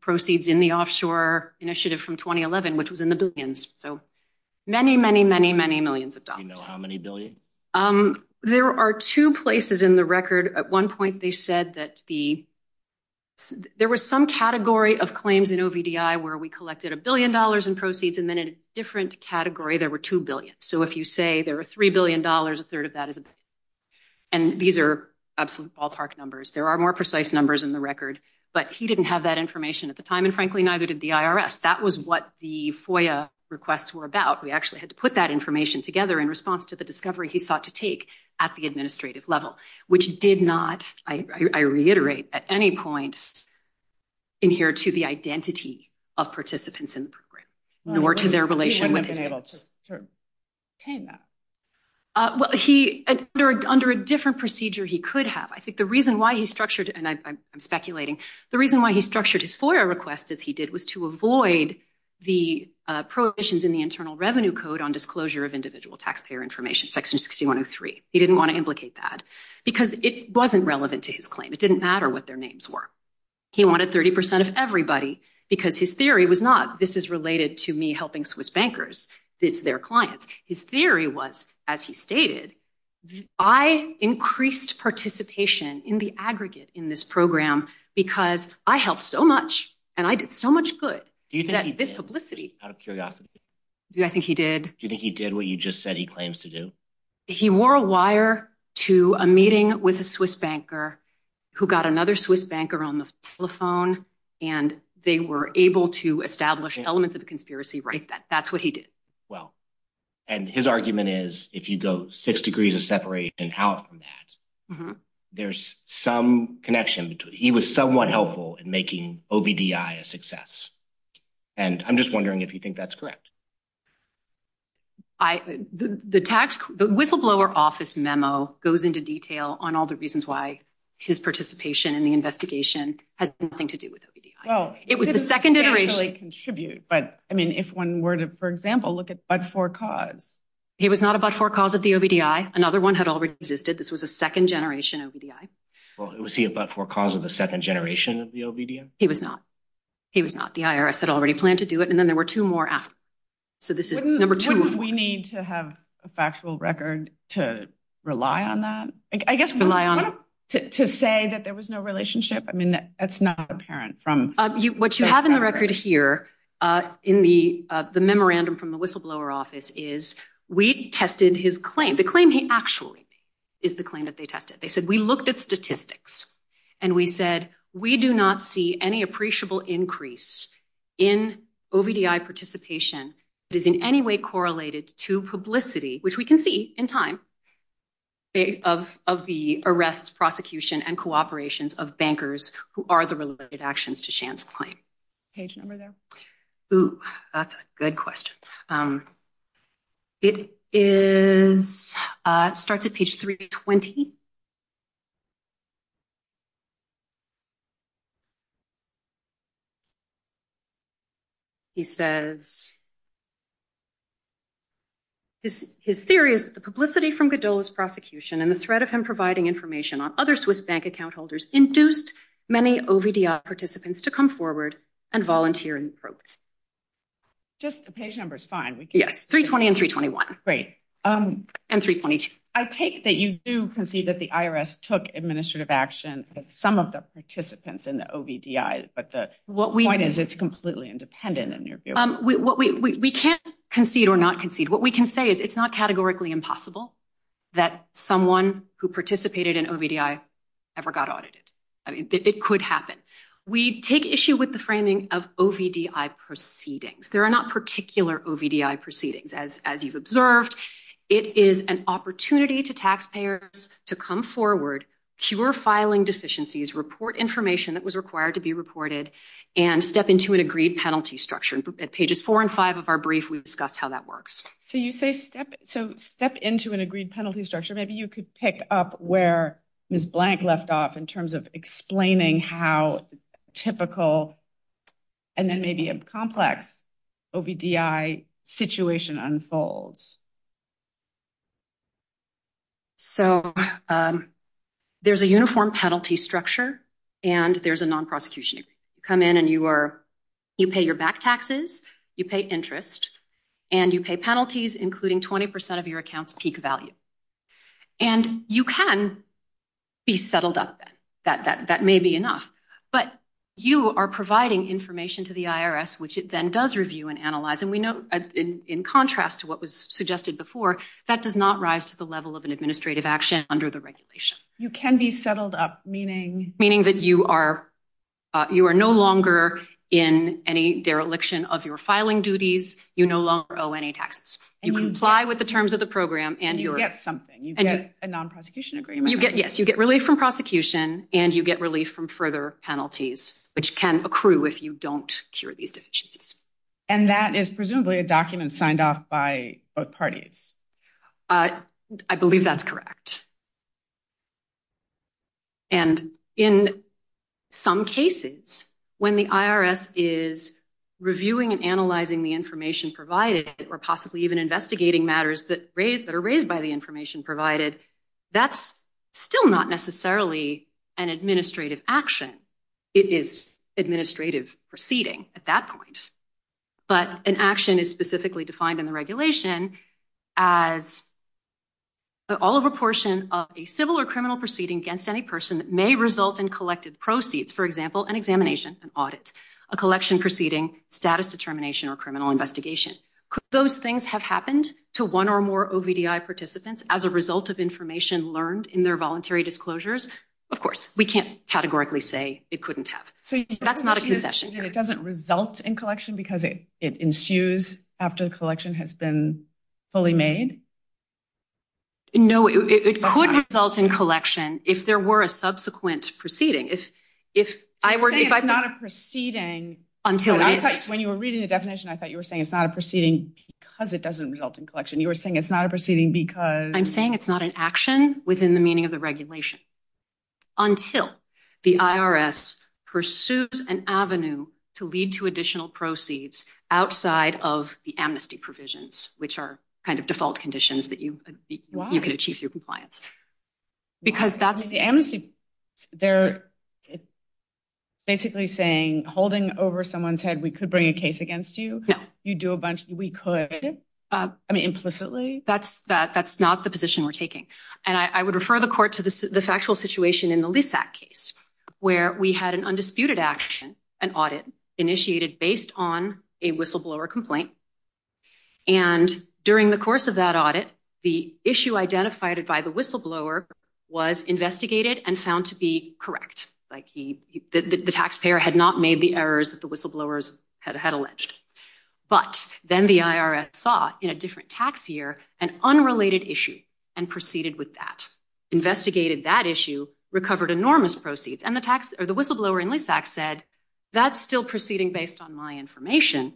proceeds in the offshore initiative from 2011, which was in the billions. So many, many, many, many millions of dollars. Do you know how many billions? There are two places in the record. At one point, they said that there was some category of claims in OVDI where we collected a billion dollars in proceeds, and then in a different category, there were two billions. So if you say there were $3 billion, a third of that is a billion. And these are absolute ballpark numbers. There are more precise numbers in the record. But he didn't have that information at the time, and frankly, neither did the IRS. That was what the FOIA requests were about. We actually had to put that information together in response to the discovery he sought to take at the administrative level, which did not, I reiterate, at any point adhere to the identity of participants in the program, nor to their relation with him. Under a different procedure, he could have. I think the reason why he structured, and I'm speculating, the reason why he structured his FOIA request as he did was to avoid the prohibitions in the Internal Revenue Code on Disclosure of Individual Taxpayer Information, Section 6103. He didn't want to implicate that because it wasn't relevant to his claim. It didn't matter what their names were. He wanted 30% of everybody because his theory was not, this is related to me helping Swiss bankers, their clients. His theory was, as he stated, I increased participation in the aggregate in this program because I helped so much, and I did so much good. Do you think he did out of curiosity? I think he did. Do you think he did what you just said he claims to do? He wore a wire to a meeting with a Swiss banker who got another Swiss banker on the telephone, and they were able to establish elements of a conspiracy right then. That's what he did. And his argument is, if you go six degrees of separation out from that, there's some connection. He was somewhat helpful in making OBDI a success. And I'm just wondering if you think that's correct. The whistleblower office memo goes into detail on all the reasons why his participation in the investigation has nothing to do with OBDI. If one were to, for example, look at but-for-cause. He was not a but-for-cause of the OBDI. Another one had already existed. This was a second generation OBDI. Well, was he a but-for-cause of the second generation of the OBDI? He was not. He was not. The IRS had already planned to do it, and then there were two more after. So this is number two. Wouldn't we need to have a factual record to rely on that? I guess rely on it. To say that there was no relationship? I mean, that's not apparent from the record. What you have in the record here in the memorandum from the whistleblower office is we tested his claim. The claim he actually made is the claim that they tested. They said, we looked at statistics, and we said, we do not see any appreciable increase in OBDI participation that is in any way correlated to publicity, which we can see in time, of the arrests, prosecution, and cooperation of bankers who are the related actions to Sham's claim. Page number there. That's a good question. It starts at page 320. He says, his theory is that the publicity from Gadula's prosecution and the threat of him providing information on other Swiss bank account holders induced many OBDI participants to come forward and volunteer in the probes. Just the page number is fine. Yes, 320 and 321. Great. And 322. I take that you do concede that the IRS took administrative action of some of the participants in the OBDI, but the point is it's completely independent. We can't concede or not concede. What we can say is it's not categorically impossible that someone who participated in OBDI ever got audited. It could happen. We take issue with the framing of OBDI proceedings. There are not particular OBDI proceedings, as you've observed. It is an opportunity to taxpayers to come forward, cure filing deficiencies, report information that was required to be reported, and step into an agreed penalty structure. At pages four and five of our brief, we discuss how that works. So you say step into an agreed penalty structure. Maybe you could pick up where Ms. Blank left off in terms of explaining how typical and then maybe a complex OBDI situation unfolds. So there's a uniform penalty structure and there's a non-prosecution. You come in and you pay your back taxes, you pay interest, and you pay penalties, including 20% of your account's peak value. And you can be settled up. That may be enough. But you are providing information to the IRS, which it then does review and analyze. And we know in contrast to what was suggested before, that does not rise to the level of an administrative action under the regulation. You can be settled up, meaning? Meaning that you are no longer in any dereliction of your filing duties. You no longer owe any taxes. You comply with the terms of the program. You get something. You get a non-prosecution agreement. Yes, you get relief from prosecution and you get relief from further penalties, which can accrue if you don't cure these deficiencies. And that is presumably a document signed off by both parties. I believe that's correct. And in some cases, when the IRS is reviewing and analyzing the information provided or possibly even investigating matters that are raised by the information provided, that's still not necessarily an administrative action. It is administrative proceeding at that point. But an action is specifically defined in the regulation as an all-over portion of a civil or criminal proceeding against any person that may result in collected proceeds, for example, an examination, an audit, a collection proceeding, status determination, or criminal investigation. Could those things have happened to one or more OVDI participants as a result of information learned in their voluntary disclosures? Of course. We can't categorically say it couldn't have. That's not a concession. It doesn't result in collection because it ensues after the collection has been fully made? No, it could result in collection if there were a subsequent proceeding. You're saying it's not a proceeding. When you were reading the definition, I thought you were saying it's not a proceeding because it doesn't result in collection. You were saying it's not a proceeding because? I'm saying it's not an action within the meaning of the regulation until the IRS pursues an avenue to lead to additional proceeds outside of the amnesty provisions, which are kind of default conditions that you could achieve through compliance. Why? Because that would be the amnesty. They're basically saying, holding over someone's head, we could bring a case against you. We could? I mean, implicitly? That's not the position we're taking. And I would refer the court to the factual situation in the Lease Act case where we had an undisputed action, an audit, initiated based on a whistleblower complaint. And during the course of that audit, the issue identified by the whistleblower was investigated and found to be correct. The taxpayer had not made the errors that the whistleblowers had alleged. But then the IRS saw, in a different tax year, an unrelated issue and proceeded with that, investigated that issue, recovered enormous proceeds, and the whistleblower in Lease Act said, that's still proceeding based on my information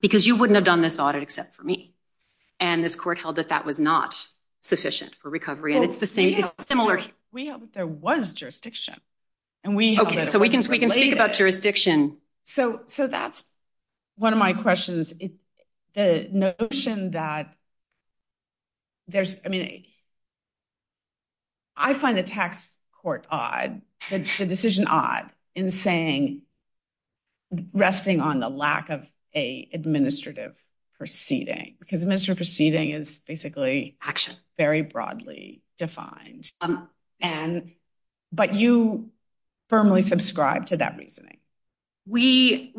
because you wouldn't have done this audit except for me. And this court held that that was not sufficient for recovery. We hope there was jurisdiction. Okay, so we can speak about jurisdiction. So that's one of my questions. It's the notion that there's, I mean, I find the tax court odd, the decision odd in saying, resting on the lack of an administrative proceeding. Because administrative proceeding is basically very broadly defined. But you firmly subscribe to that reasoning. We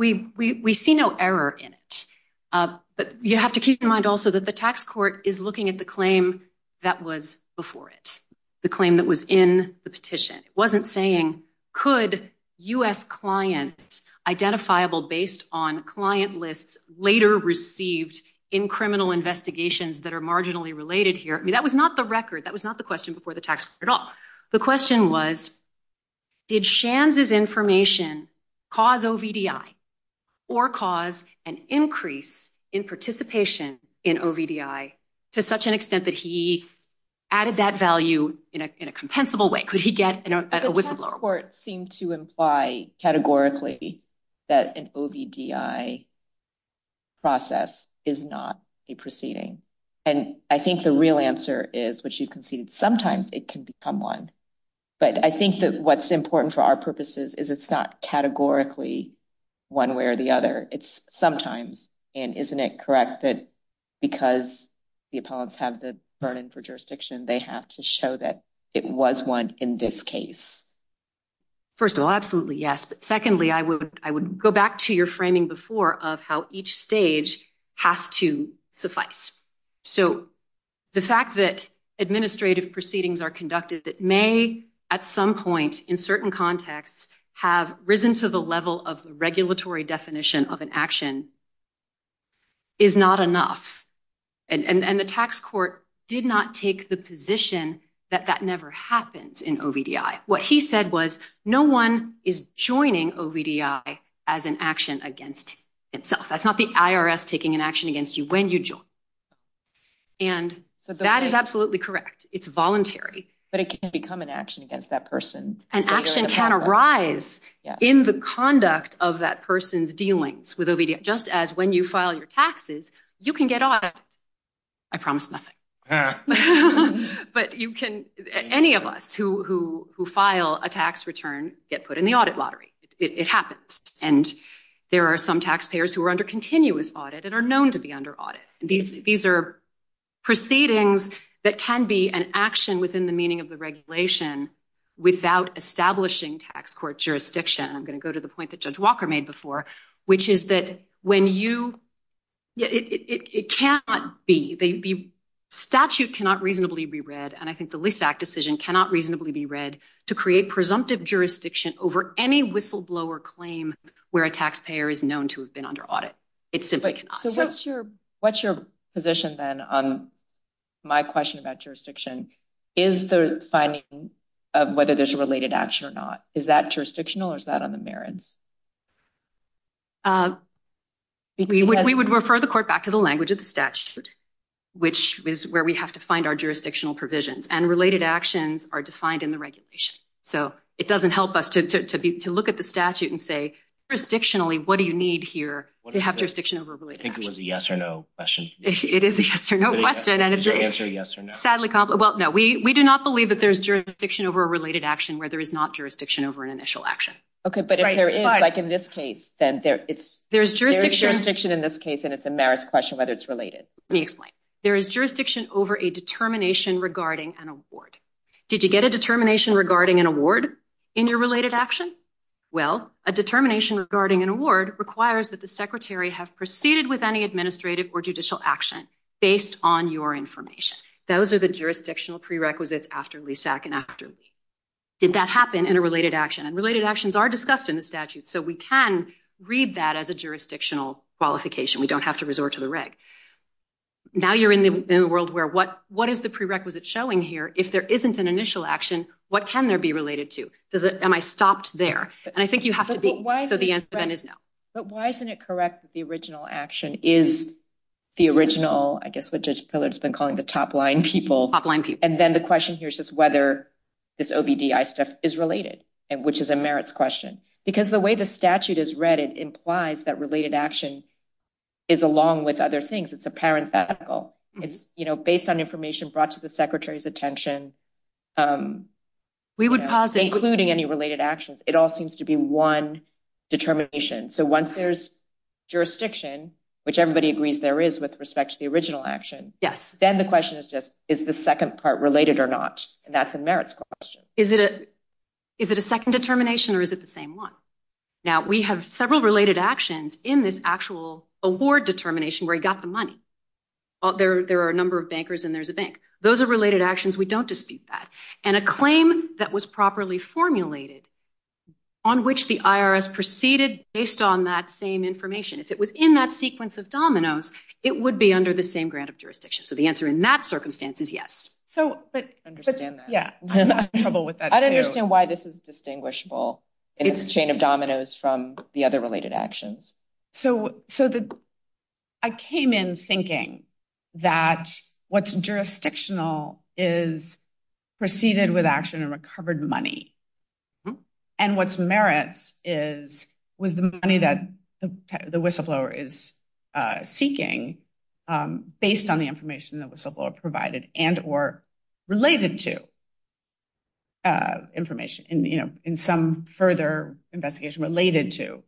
see no error in it. But you have to keep in mind also that the tax court is looking at the claim that was before it, the claim that was in the petition. It wasn't saying, could U.S. clients, identifiable based on client lists, later received in criminal investigations that are marginally related here. I mean, that was not the record. That was not the question before the tax year at all. The question was, did Shands' information cause OVDI or cause an increase in participation in OVDI to such an extent that he added that value in a compensable way? Could he get a whistleblower? The courts seem to imply categorically that an OVDI process is not a proceeding. And I think the real answer is, which you conceded, sometimes it can become one. But I think that what's important for our purposes is it's not categorically one way or the other. It's sometimes. And isn't it correct that because the appellants have the burden for jurisdiction, they have to show that it was one in this case? First of all, absolutely, yes. But secondly, I would go back to your framing before of how each stage has to suffice. So the fact that administrative proceedings are conducted that may, at some point, in certain contexts, have risen to the level of regulatory definition of an action is not enough. And the tax court did not take the position that that never happened in OVDI. What he said was no one is joining OVDI as an action against itself. That's not the IRS taking an action against you when you join. And that is absolutely correct. It's voluntary. But it can become an action against that person. An action can arise in the conduct of that person's dealings with OVDI, just as when you file your taxes, you can get audited. I promise nothing. But you can, any of us who file a tax return get put in the audit lottery. It happens. And there are some taxpayers who are under continuous audit and are known to be under audit. These are proceedings that can be an action within the meaning of the regulation without establishing tax court jurisdiction. And I'm going to go to the point that Judge Walker made before, which is that when you – it cannot be – the statute cannot reasonably be read, and I think the Lease Act decision cannot reasonably be read, to create presumptive jurisdiction over any whistleblower claim where a taxpayer is known to have been under audit. It simply cannot. So what's your position, then, on my question about jurisdiction? Is the finding of whether there's a related action or not, is that jurisdictional or is that on the merits? We would refer the court back to the language of the statute, which is where we have to find our jurisdictional provisions. And related actions are defined in the regulation. So it doesn't help us to look at the statute and say, jurisdictionally, what do you need here to have jurisdiction over a related action? I think it was a yes or no question. It is a yes or no question. Is the answer yes or no? Sadly, well, no. We do not believe that there's jurisdiction over a related action where there is not jurisdiction over an initial action. Okay, but if there is, like in this case, then there is jurisdiction in this case, and it's a merits question whether it's related. Exactly. There is jurisdiction over a determination regarding an award. Did you get a determination regarding an award in your related action? Well, a determination regarding an award requires that the Secretary have proceeded with any administrative or judicial action based on your information. Those are the jurisdictional prerequisites after LESAC and AFTRS. Did that happen in a related action? And related actions are discussed in the statute, so we can read that as a jurisdictional qualification. We don't have to resort to the reg. Now you're in a world where what is the prerequisite showing here? If there isn't an initial action, what can there be related to? Am I stopped there? And I think you have to be, so the answer then is no. But why isn't it correct that the original action is the original, I guess what Judge Pillard has been calling the top-line people. Top-line people. And then the question here is just whether this OBDI stuff is related, which is a merits question. Because the way the statute is read, it implies that related action is along with other things. It's a parenthetical. It's based on information brought to the Secretary's attention. We would posit. Including any related actions. It all seems to be one determination. So once there's jurisdiction, which everybody agrees there is with respect to the original action, then the question is just is the second part related or not? And that's a merits question. Is it a second determination or is it the same one? Now we have several related actions in this actual award determination where he got the money. There are a number of bankers and there's a bank. Those are related actions. We don't dispute that. And a claim that was properly formulated on which the IRS proceeded based on that same information, if it was in that sequence of dominoes, it would be under the same grant of jurisdiction. So the answer in that circumstance is yes. I understand that. I'm having trouble with that too. I don't understand why this is distinguishable. It's a chain of dominoes from the other related actions. So I came in thinking that what's jurisdictional is proceeded with action and recovered money. And what's merits is with the money that the whistleblower is seeking based on the information the whistleblower provided and or related to information in some further investigation related to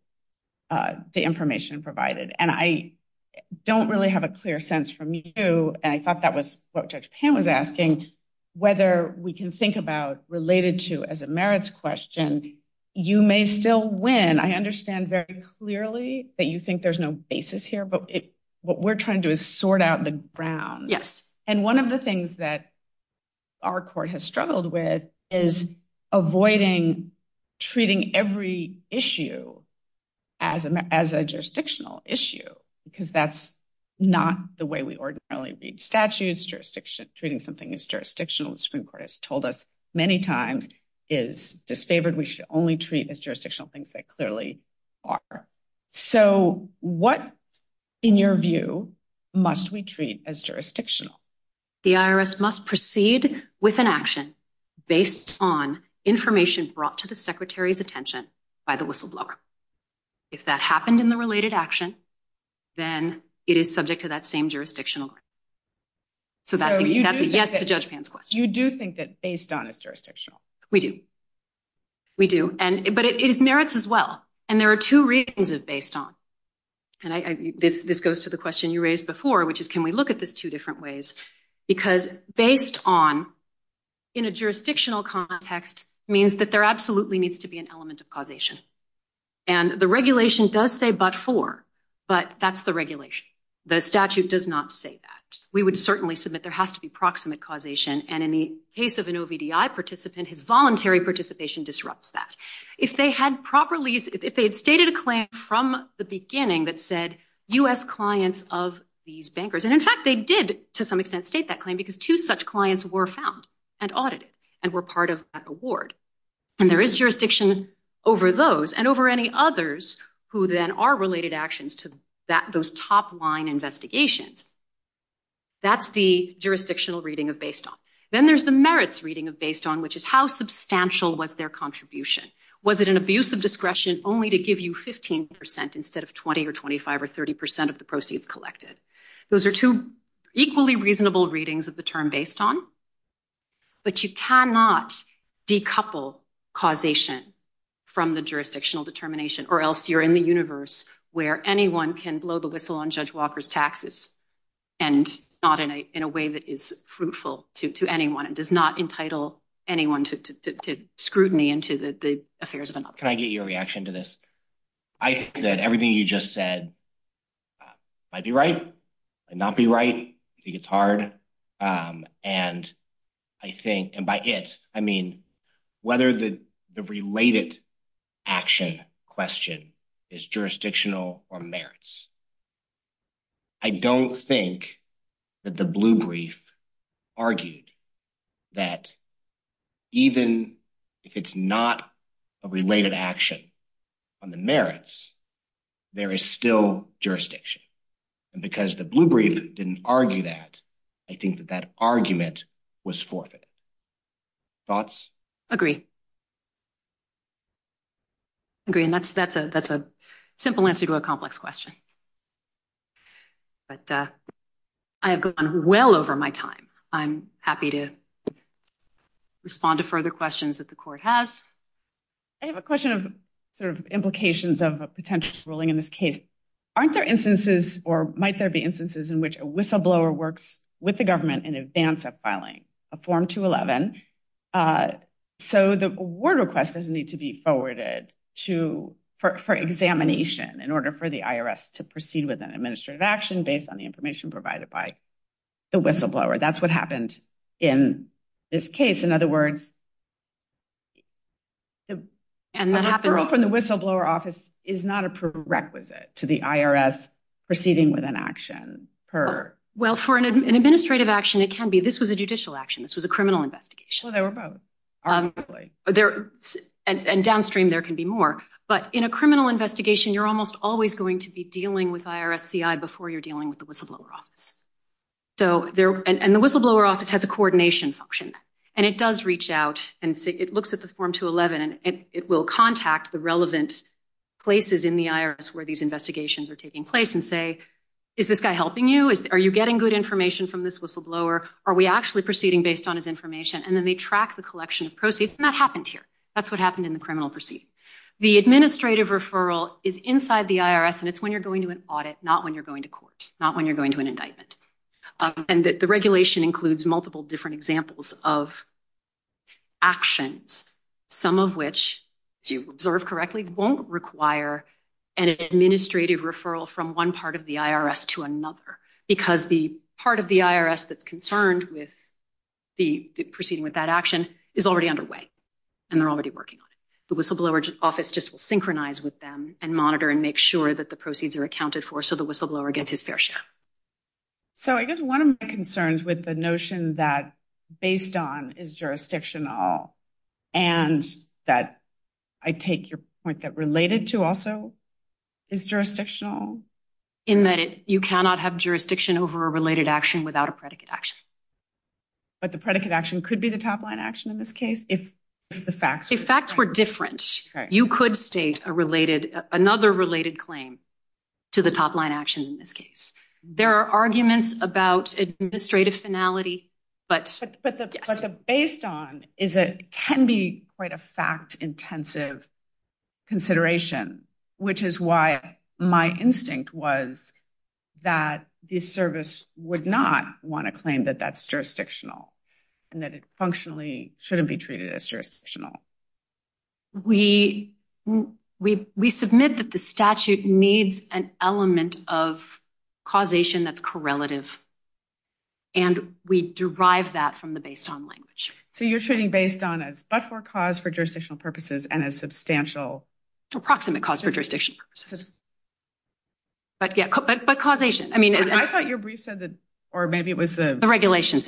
the information provided. And I don't really have a clear sense from you, and I thought that was what Judge Pan was asking, whether we can think about related to as a merits question, you may still win. I understand very clearly that you think there's no basis here, but what we're trying to do is sort out the ground. And one of the things that our court has struggled with is avoiding treating every issue as a jurisdictional issue because that's not the way we ordinarily read statutes. Treating something as jurisdictional, the Supreme Court has told us many times is disfavored. We should only treat as jurisdictional things that clearly are. So what, in your view, must we treat as jurisdictional? The IRS must proceed with an action based on information brought to the Secretary's attention by the whistleblower. If that happened in the related action, then it is subject to that same jurisdictional. So that's a yes to Judge Pan's question. You do think that based on is jurisdictional? We do. We do. But it merits as well. And there are two reasons it's based on. And this goes to the question you raised before, which is can we look at this two different ways? Because based on, in a jurisdictional context, means that there absolutely needs to be an element of causation. And the regulation does say but for. But that's the regulation. The statute does not say that. We would certainly submit there has to be proximate causation. And in the case of an OVDI participant, his voluntary participation disrupts that. If they had properly, if they had stated a claim from the beginning that said U.S. clients of these bankers. And, in fact, they did to some extent state that claim because two such clients were found and audited and were part of that award. And there is jurisdiction over those and over any others who then are related actions to those top line investigations. That's the jurisdictional reading of based on. Then there's the merits reading of based on, which is how substantial was their contribution? Was it an abuse of discretion only to give you 15% instead of 20 or 25 or 30% of the proceeds collected? Those are two equally reasonable readings of the term based on. But you cannot decouple causation from the jurisdictional determination or else you're in the universe where anyone can blow the whistle on Judge Walker's taxes and not in a way that is fruitful to anyone. It does not entitle anyone to scrutiny into the affairs of another. Can I get your reaction to this? I think that everything you just said might be right and not be right. I think it's hard and I think, and by it, I mean, whether the related action question is jurisdictional or merits. I don't think that the blue brief argued that even if it's not a related action on the merits, there is still jurisdiction. And because the blue brief didn't argue that, I think that that argument was forfeit. Thoughts? Agree. Agree. And that's a simple answer to a complex question. But I have gone well over my time. I'm happy to respond to further questions that the court has. I have a question of sort of implications of a potential ruling in this case. Aren't there instances, or might there be instances in which a whistleblower works with the government in advance of filing a form 211? So the word request doesn't need to be forwarded to, for examination in order for the IRS to proceed with an administrative action based on the information provided by the whistleblower. That's what happened in this case. In other words, The whistleblower office is not a prerequisite to the IRS proceeding with an action. Well, for an administrative action, it can be. This was a judicial action. This was a criminal investigation. And downstream, there can be more. But in a criminal investigation, you're almost always going to be dealing with IRS CI before you're dealing with the whistleblower office. And the whistleblower office has a coordination function. And it does reach out and it looks at the form 211, and it will contact the relevant places in the IRS where these investigations are taking place and say, is this guy helping you? Are you getting good information from this whistleblower? Are we actually proceeding based on his information? And then they track the collection of proceeds. And that happened here. That's what happened in the criminal proceeding. The administrative referral is inside the IRS. And it's when you're going to an audit, not when you're going to court, not when you're going to an indictment. And the regulation includes multiple different examples of actions, some of which, if you observe correctly, won't require an administrative referral from one part of the IRS to another because the part of the IRS that's concerned with the proceeding with that action is already underway. And they're already working on it. The whistleblower office just will synchronize with them and monitor and make sure that the proceeds are accounted for so the whistleblower gets his fair share. So I guess one of my concerns with the notion that based on is jurisdictional and that I take your point that related to also is jurisdictional. In that you cannot have jurisdiction over a related action without a predicate action. But the predicate action could be the top line action in this case if the facts were different. You could state a related, another related claim to the top line action in this case. There are arguments about administrative finality. But based on is it can be quite a fact intensive consideration, which is why my instinct was that the service would not want to claim that that's jurisdictional and that it functionally shouldn't be treated as jurisdictional. We submit that the statute needs an element of causation that's correlative. And we derive that from the based on language. So you're treating based on as but for cause for jurisdictional purposes and as substantial. Approximate cause for jurisdiction. But causation. I thought your brief said that, or maybe it was the. The regulations.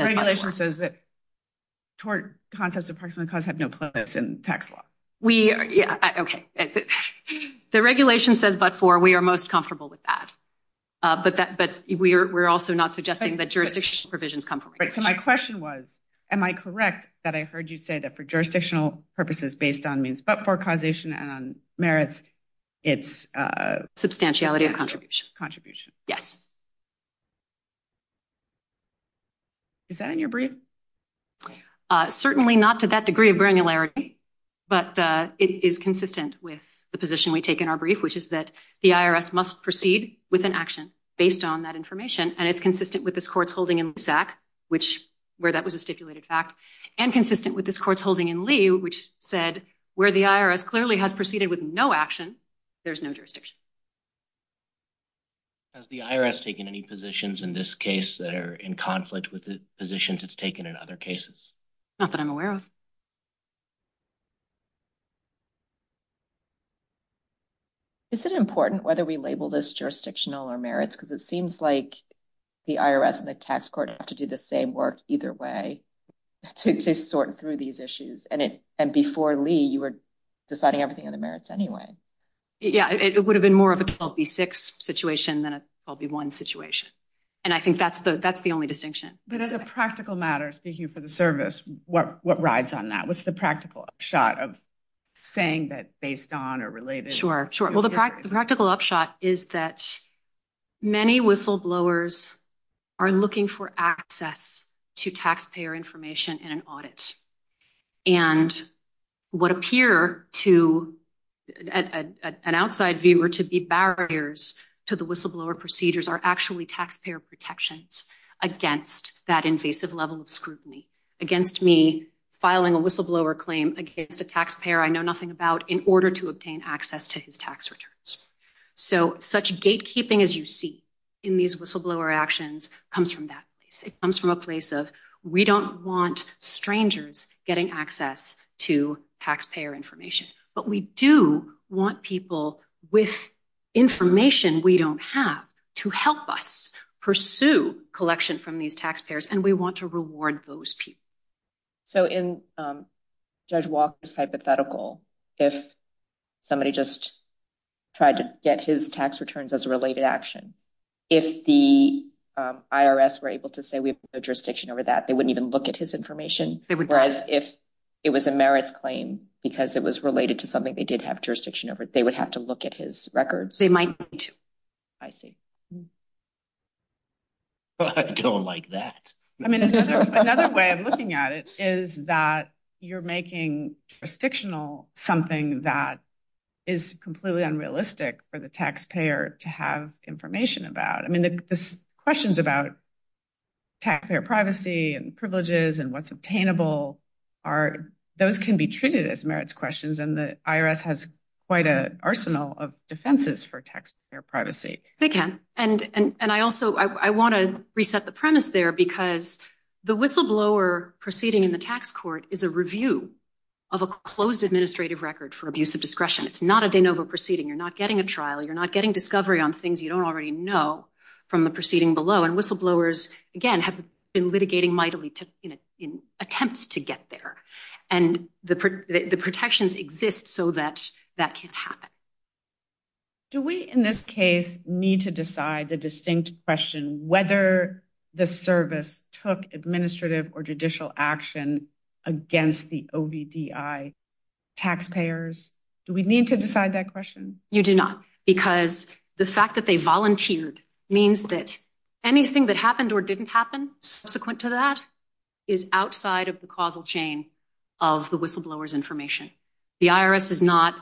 We are. Yeah. Okay. The regulation says, but for, we are most comfortable with that. But that, but we're, we're also not suggesting that jurisdiction provisions come from it. So my question was, am I correct? That I heard you say that for jurisdictional purposes, based on means, but for causation and merits. It's a substantiality of contribution contribution. Yes. Okay. Is that in your brief? Certainly not to that degree of granularity. But it is consistent with the position we take in our brief, which is that the IRS must proceed with an action based on that information. And it's consistent with this court's holding exact, which where that was a stipulated fact. And consistent with this court's holding in Lee, which said where the IRS clearly has proceeded with no action. There's no jurisdiction. Has the IRS taken any positions in this case that are in conflict with the positions it's taken in other cases. Not that I'm aware of. Is it important whether we label this jurisdictional or merits, because it seems like the IRS and the tax court have to do the same work either way. Sort through these issues and it, and before Lee, you were deciding everything in the merits anyway. Yeah. It would have been more of a six situation. Then I'll be one situation. And I think that's the, that's the only distinction. But as a practical matter, speaking for the service, what, what rides on that? What's the practical shot of saying that based on or related. Sure. Sure. Well, the practical upshot is that many whistleblowers. Are looking for access to taxpayer information in an audit. And what appear to. An outside viewer to be barriers to the whistleblower procedures are actually taxpayer protections against that invasive level of scrutiny against me, filing a whistleblower claim against a taxpayer. I know nothing about in order to obtain access to his tax returns. So such gatekeeping as you see in these whistleblower actions comes from that. It comes from a place of, we don't want strangers getting access to taxpayer information, but we do want people with information. We don't have to help us pursue collection from these taxpayers and we want to reward those people. So in judge Walker's hypothetical, if somebody just tried to get his tax returns as a related action, if the IRS were able to say, we have a jurisdiction over that, they wouldn't even look at his information. If it was a merit claim, because it was related to something they did have jurisdiction over, they would have to look at his records. They might. I see. Well, I don't like that. I mean, another way of looking at it is that you're making a fictional something that is completely unrealistic for the taxpayer to have information about. I mean, the questions about taxpayer privacy and privileges and what's obtainable are, those can be treated as merits questions and the IRS has quite an arsenal of defenses for taxpayer privacy. They can. And I also, I want to reset the premise there because the whistleblower proceeding in the tax court is a review of a closed administrative record for abuse of discretion. It's not a de novo proceeding. You're not getting a trial. You're not getting discovery on things you don't already know from the proceeding below. And whistleblowers, again, have been litigating mightily in attempts to get there. And the protections exist so that that can happen. Do we, in this case need to decide the distinct question, whether the service took administrative or judicial action against the OBDI taxpayers? Do we need to decide that question? You do not because the fact that they volunteered means that anything that happened or didn't happen subsequent to that is outside of the causal chain of the whistleblowers information. The IRS is not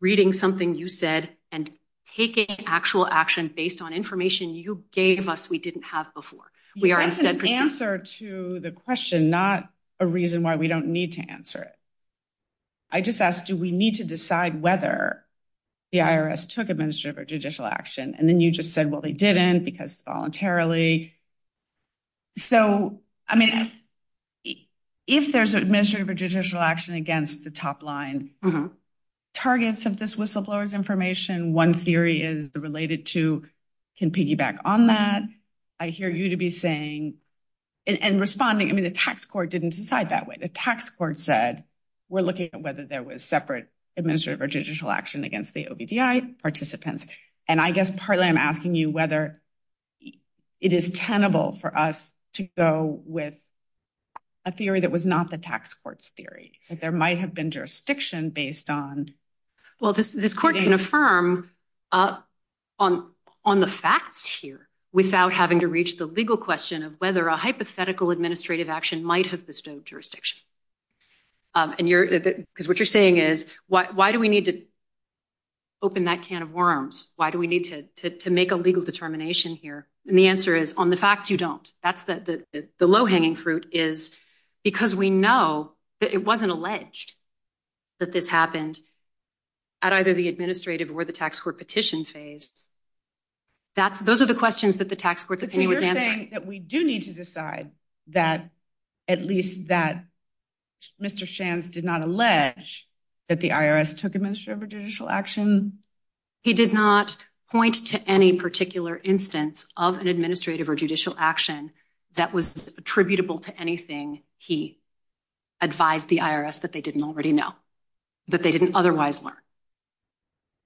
reading something you said and taking actual action based on information you gave us. We didn't have before. We are. That's an answer to the question, not a reason why we don't need to answer it. I just asked, do we need to decide whether the IRS took administrative or judicial action? And then you just said, well, they didn't because voluntarily. So, I mean, if there's a measure of a judicial action against the top line targets of this whistleblowers information, one theory is related to can piggyback on that. I hear you to be saying and responding. I mean, the tax court didn't decide that way. The tax court said we're looking at whether there was separate administrative or judicial action against the OBDI participants. And I guess partly I'm asking you whether it is tenable for us to go with a theory that was not the tax court's theory that there might have been jurisdiction based on. Well, this court can affirm on the facts here without having to reach the legal question of whether a hypothetical administrative action might have bestowed jurisdiction. And what you're saying is, why do we need to open that can of worms? Why do we need to make a legal determination here? And the answer is on the fact you don't, that's the low hanging fruit is because we know that it wasn't alleged that this happened at either the administrative or the tax court petition phase. Those are the questions that the tax court that we do need to decide that at least that Mr. Shams did not allege that the IRS took administrative or judicial action. He did not point to any particular instance of an administrative or judicial action that was attributable to anything. He advised the IRS that they didn't already know that they didn't otherwise learn.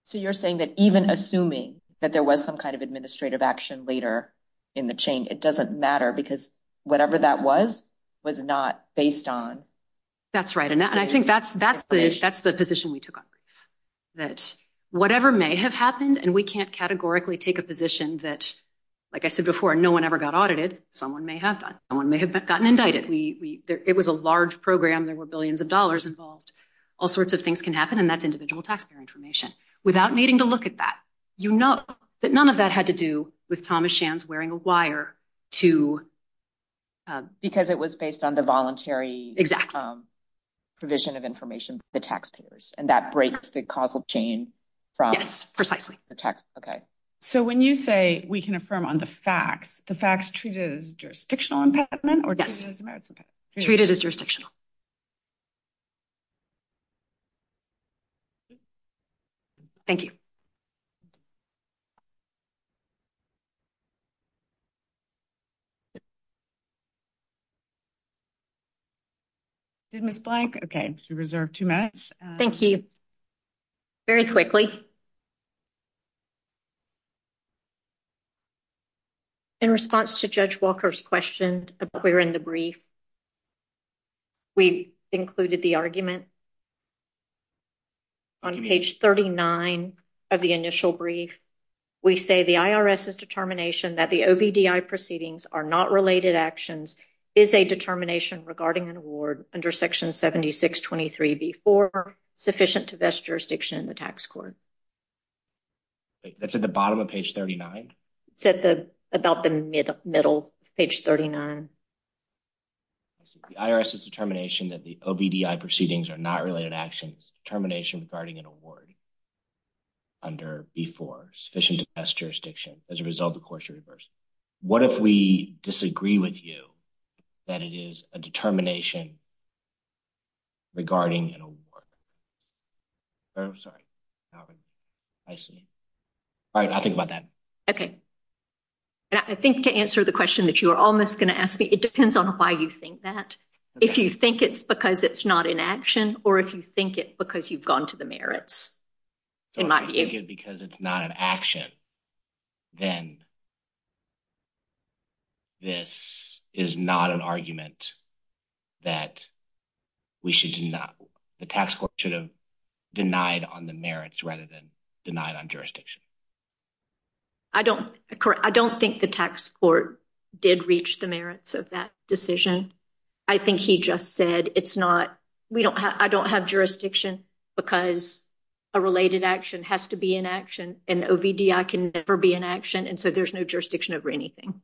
So you're saying that even assuming that there was some kind of administrative action later in the chain, it doesn't matter because whatever that was, was not based on. That's right. And I think that's, that's the position we took on that whatever may have happened and we can't categorically take a position that, like I said before, no one ever got audited. Someone may have gotten indicted. We, it was a large program. There were billions of dollars involved. All sorts of things can happen. And that's individual taxpayer information without needing to look at that. You know, that none of that had to do with Thomas Shams wearing a wire to. Because it was based on the voluntary. Exactly. Provision of information to the taxpayers and that breaks the causal chain from the text. Okay. So when you say we can affirm on the facts, the facts treated as jurisdictional impediment or. Treated as jurisdictional. Thank you. Okay. Thank you. Very quickly. In response to judge Walker's question, a clear in the brief. We included the argument. On page 39 of the initial brief. We say the IRS is determination that the OBDI proceedings are not related actions. Is a determination regarding an award under section 76, 23, before sufficient to best jurisdiction in the tax court. That's at the bottom of page 39. That's about the middle middle page 39. The IRS is determination that the OBDI proceedings are not related actions termination regarding an award. Under before sufficient to best jurisdiction as a result, of course, reverse. What if we disagree with you that it is a determination. Regarding. I'm sorry. I see. All right. I think about that. Okay. I think to answer the question that you are almost going to ask me, it depends on why you think that if you think it's because it's not in action, or if you think it's because you've gone to the merits. In my view, because it's not an action. Then. This is not an argument. That. We should not. The tax court should have denied on the merits rather than denied on jurisdiction. I don't I don't think the tax court did reach the merits of that decision. I think he just said, it's not. We don't have I don't have jurisdiction because. A related action has to be in action and OBDI can never be in action. And so there's no jurisdiction over anything.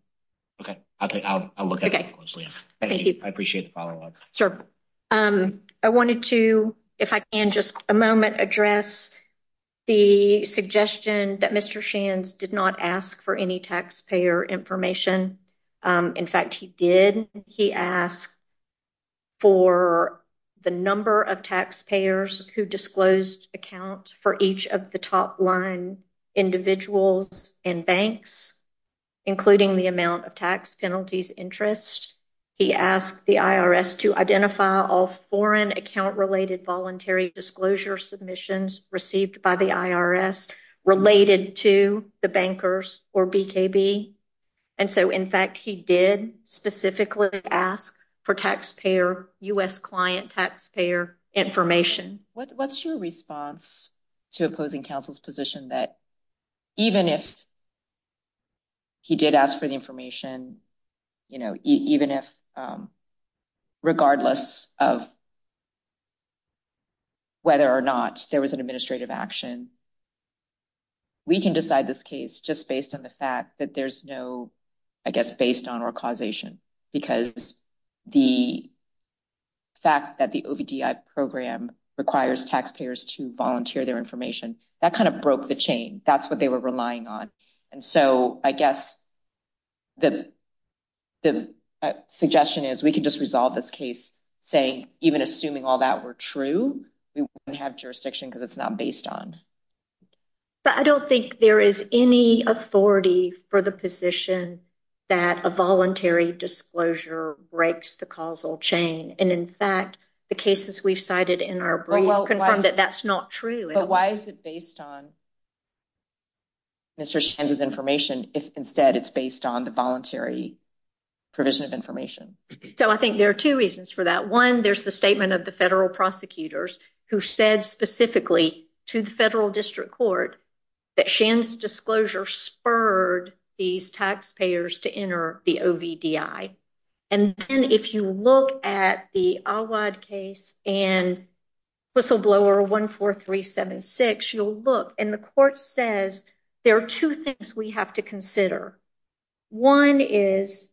Okay. Okay. Okay. Thank you. I appreciate the follow up. So, I wanted to, if I can just a moment address. The suggestion that Mr. Shands did not ask for any taxpayer information. In fact, he did. He asked. For the number of taxpayers who disclosed accounts for each of the top line individuals and banks, including the amount of tax penalties interest. He asked the IRS to identify all foreign account related voluntary disclosure submissions received by the IRS related to the bankers or BKB. And so, in fact, he did specifically ask for taxpayer U.S. client taxpayer information. What's your response to opposing counsel's position that even if. He did ask for the information, even if. Regardless of. Whether or not there was an administrative action. We can decide this case just based on the fact that there's no, I guess, based on our causation because the. Fact that the program requires taxpayers to volunteer their information that kind of broke the chain. That's what they were relying on. And so I guess. The. Suggestion is we can just resolve this case. And say, even assuming all that were true, we have jurisdiction because it's not based on. But I don't think there is any authority for the position that a voluntary disclosure breaks the causal chain. And in fact, the cases we've cited in our program that that's not true. But why is it based on. Mr. Information instead, it's based on the voluntary provision of information. So, I think there are 2 reasons for that. 1, there's the statement of the federal prosecutors who said specifically to the federal district court. That disclosure spurred these taxpayers to enter the. And if you look at the case and. Whistleblower 1, 4, 3, 7, you'll look and the court says there are 2 things we have to consider. 1 is.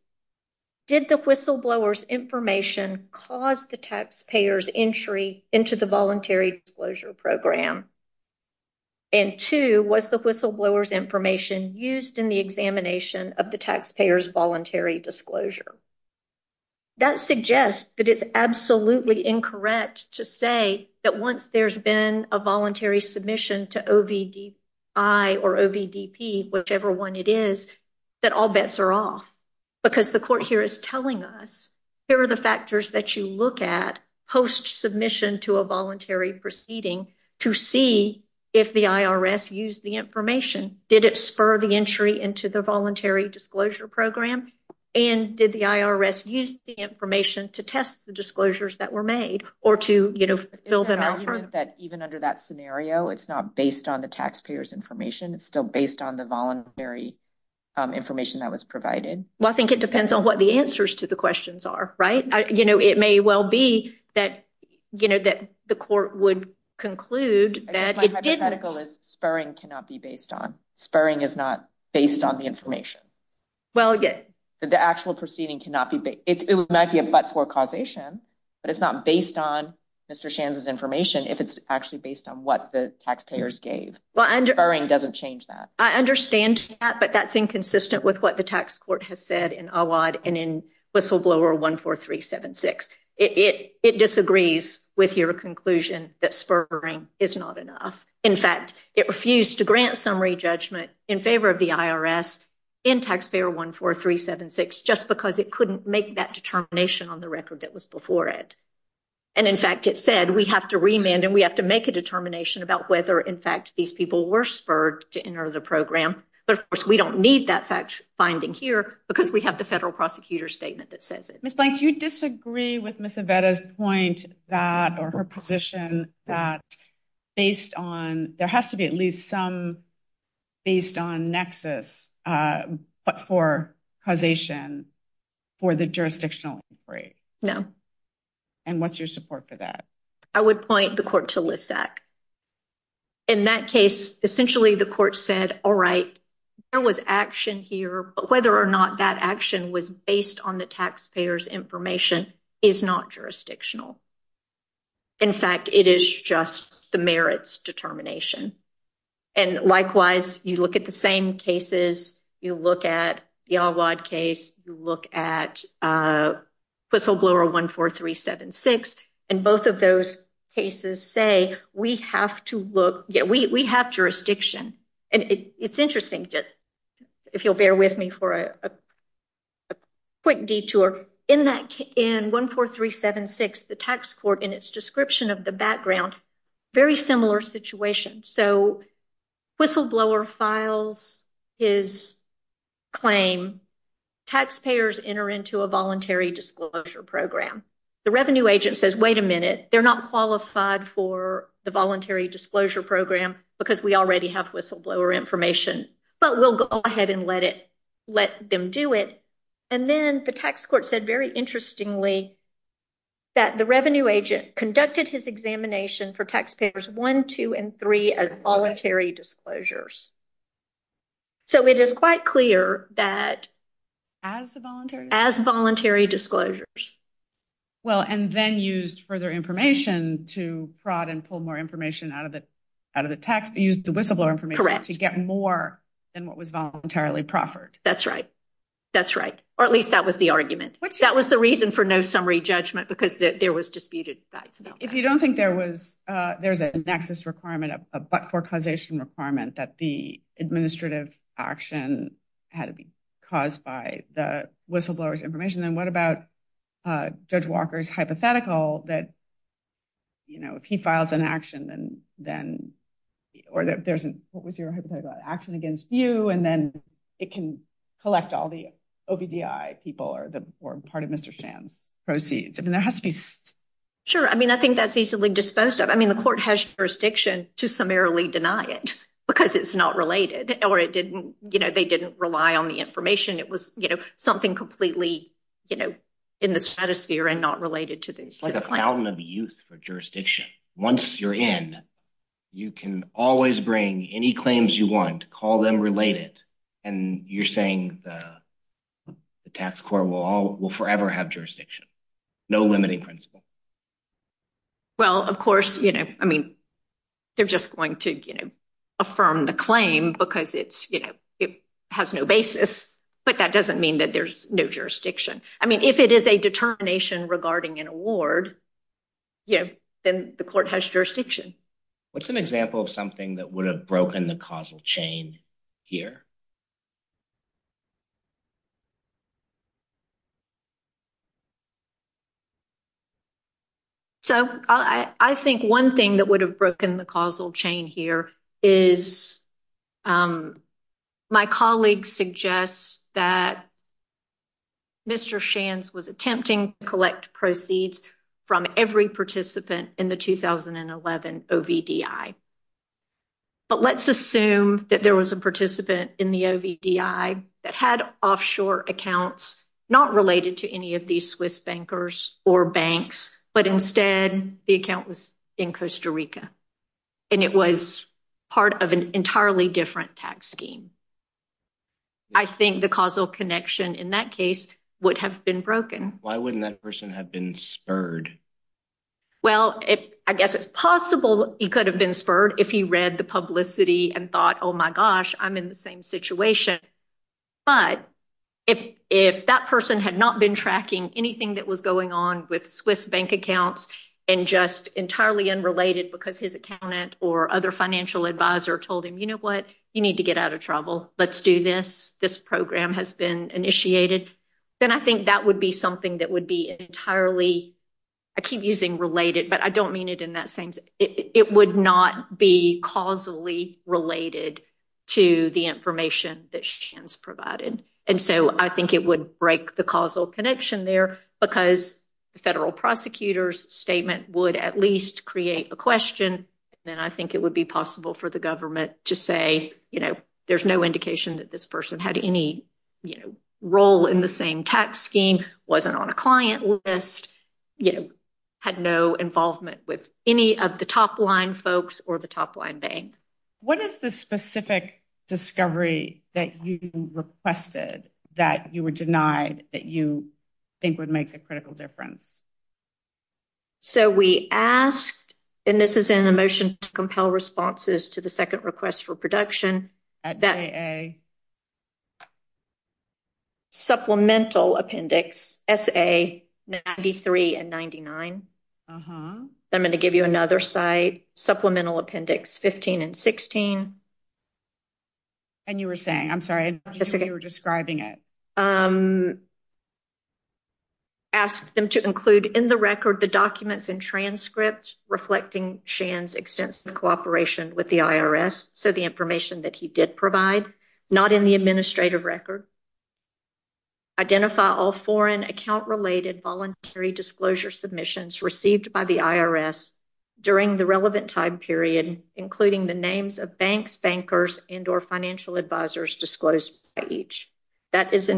Did the whistleblowers information cause the taxpayers entry into the voluntary disclosure program? And 2, what's the whistleblowers information used in the examination of the taxpayers voluntary disclosure. That suggests that it's absolutely incorrect to say that once there's been a voluntary submission to. I, or whichever 1, it is that all bets are off. Because the court here is telling us, here are the factors that you look at post submission to a voluntary proceeding to see if the IRS use the information. Did it spur the entry into the voluntary disclosure program? And did the IRS use the information to test the disclosures that were made or to, you know, fill them out that even under that scenario, it's not based on the taxpayers information. It's still based on the voluntary. Information that was provided. Well, I think it depends on what the answers to the questions are, right? You know, it may well be that, you know, that the court would conclude that it did medical is spurring cannot be based on. Spurring is not based on the information. Well, the actual proceeding cannot be, it might be a but for causation, but it's not based on Mr. Shannon's information. If it's actually based on what the taxpayers gave, well, and doesn't change that. I understand that, but that's inconsistent with what the tax court has said in a wide and whistleblower one, four, three, seven, six, it disagrees with your conclusion that spurring is not enough. In fact, it refused to grant summary judgment in favor of the IRS in taxpayer one, four, three, seven, six, just because it couldn't make that determination on the record that was before it. And in fact, it said, we have to remand and we have to make a determination about whether, in fact, these people were spurred to enter the program, but of course we don't need that fact finding here because we have the federal prosecutor's statement that says it. Ms. Blank, do you disagree with Ms. Aveda's point that, or her position that based on, there has to be at least some based on nexus, but for causation for the jurisdictional break. No. And what's your support for that? I would point the court to list that. In that case, essentially the court said, all right, there was action here, whether or not that action was based on the taxpayers information is not jurisdictional. In fact, it is just the merits determination. And likewise, you look at the same cases. You look at the odd case, you look at whistleblower one, four, three, seven, six, and both of those cases say we have to look. Yeah, we have jurisdiction. And it's interesting that if you'll bear with me for a quick detour in that in one, four, three, seven, six, the tax court in its description of the background, very similar situation. So whistleblower files his claim. Taxpayers enter into a voluntary disclosure program. The revenue agent says, wait a minute, they're not qualified for the voluntary disclosure program because we already have whistleblower information, but we'll go ahead and let it, let them do it. And then the tax court said, very interestingly, that the revenue agent conducted his examination for taxpayers one, two, and three as voluntary disclosures. So it is quite clear that. As voluntary disclosures. Well, and then used further information to fraud and pull more information out of it, out of the text, use the whistleblower information to get more than what was voluntarily proffered. That's right. That's right. Or at least that was the argument. That was the reason for no summary judgment, because there was disputed. If you don't think there was, there's a nexus requirement for causation requirement that the administrative action had to be caused by the whistleblowers information. And what about judge Walker's hypothetical? But, you know, if he files an action and then, or there's an action against you, and then it can collect all the OBDI people or the part of Mr. Sam proceeds. I mean, there has to be sure. I mean, I think that's easily disposed of. I mean, the court has jurisdiction to summarily deny it because it's not related or it didn't, you know, they didn't rely on the information. It was, you know, something completely, you know, in the status sphere and not related to this. Like a fountain of youth for jurisdiction. Once you're in, you can always bring any claims you want to call them related. And you're saying the, the task core will all will forever have jurisdiction. No limiting principle. Well, of course, you know, I mean, they're just going to, you know, affirm the claim, because it's, you know, it has no basis, but that doesn't mean that there's no jurisdiction. I mean, if it is a determination regarding an award. Yeah, then the court has jurisdiction. What's an example of something that would have broken the causal chain here. So, I think 1 thing that would have broken the causal chain here is my colleagues suggest that. Mr. Shands was attempting to collect proceeds from every participant in the 2011. But let's assume that there was a participant in the that had offshore accounts, not related to any of these Swiss bankers or banks, but instead the account was in Costa Rica. And it was part of an entirely different tax scheme. I think the causal connection in that case would have been broken. Why wouldn't that person have been spurred? Well, I guess it's possible. He could have been spurred if he read the publicity and thought, oh, my gosh, I'm in the same situation. But if, if that person had not been tracking anything that was going on with Swiss bank accounts, and just entirely unrelated, because his accountant or other financial advisor told him, you know what, you need to get out of trouble. Let's do this. This program has been initiated. Then I think that would be something that would be entirely, I keep using related, but I don't mean it in that sense. It would not be causally related to the information that Shands provided. And so I think it would break the causal connection there because the federal prosecutor's statement would at least create a question. And I think it would be possible for the government to say, you know, there's no indication that this person had any role in the same tax scheme, wasn't on a client list, you know, had no involvement with any of the top line folks or the top line bank. What is the specific discovery that you requested that you were denied that you think would make a critical difference? So we asked, and this is in the motion to compel responses to the second request for production. Supplemental appendix S. A. ninety three and ninety nine. I'm going to give you another site supplemental appendix fifteen and sixteen. And you were saying, you were describing it. Okay. I'm going to go ahead and ask them to include in the record, the documents and transcripts reflecting Shands, extends the cooperation with the IRS. So the information that he did provide not in the administrative record. Identify all foreign account related voluntary disclosure submissions received by the IRS during the relevant time period, including the names of banks, bankers, and or financial advisors disclosed each that is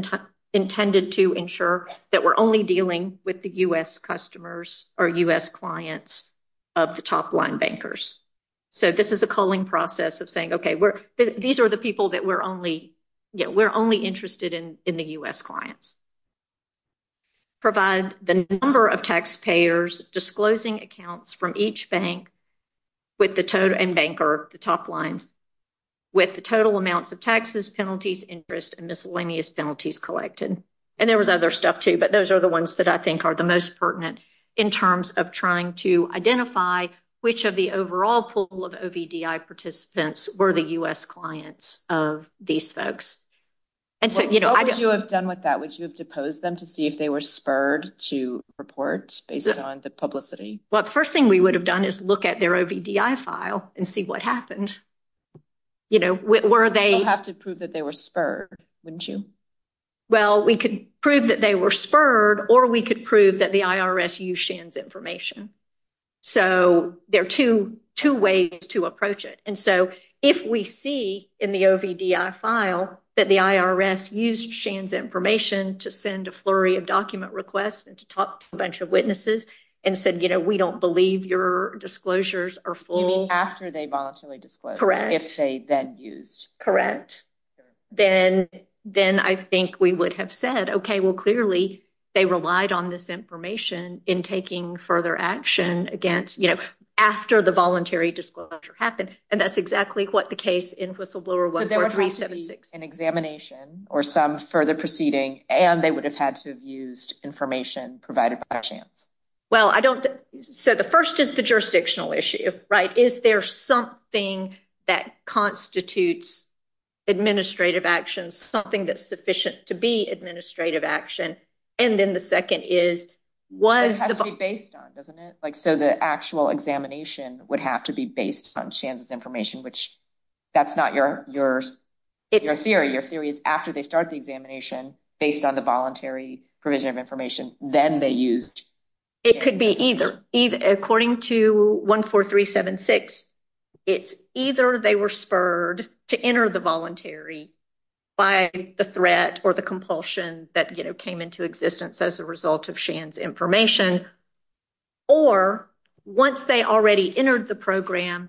intended to ensure that we're only dealing with the U. S. customers or U. S. clients of the top line bankers. So, this is a calling process of saying, okay, these are the people that we're only, we're only interested in the U. clients. Provide the number of taxpayers disclosing accounts from each bank. With the toad and banker, the top line with the total amounts of taxes, penalties, interest, and miscellaneous penalties collected, and there was other stuff too, but those are the ones that I think are the most pertinent in terms of trying to identify which of the overall pool of participants were the U. S. clients of these folks. And so, you know, I got to have done with that, which was to pose them to see if they were spurred to report on the publicity. Well, the first thing we would have done is look at their file and see what happened. You know, where are they have to prove that they were spurred? Wouldn't you? Well, we could prove that they were spurred, or we could prove that the information. So, there are two, two ways to approach it. And so, if we see in the file, that the information to send a flurry of document requests and to talk a bunch of witnesses and said, you know, we don't believe your disclosures are full after they voluntarily correct. If they then use, correct, then, then I think we would have said, okay, well, clearly, they relied on this information in taking further action against, you know, after the voluntary disclosure happened. And that's exactly what the case in whistleblower was an examination or some further proceeding. And they would have had to have used information provided by a chance. Well, I don't. So, the 1st is the jurisdictional issue, right? Is there something that constitutes administrative actions? Something that's sufficient to be administrative action. And then the 2nd is, was based on, doesn't it? Like, so the actual examination would have to be based on chance information, which that's not your, your, your theory, your theories after they start the examination based on the voluntary provision of information. Then they used, it could be either according to 1, 4, 3, 7, 6. It's either they were spurred to enter the voluntary. By the threat or the compulsion that came into existence as a result of chance information. Or once they already entered the program,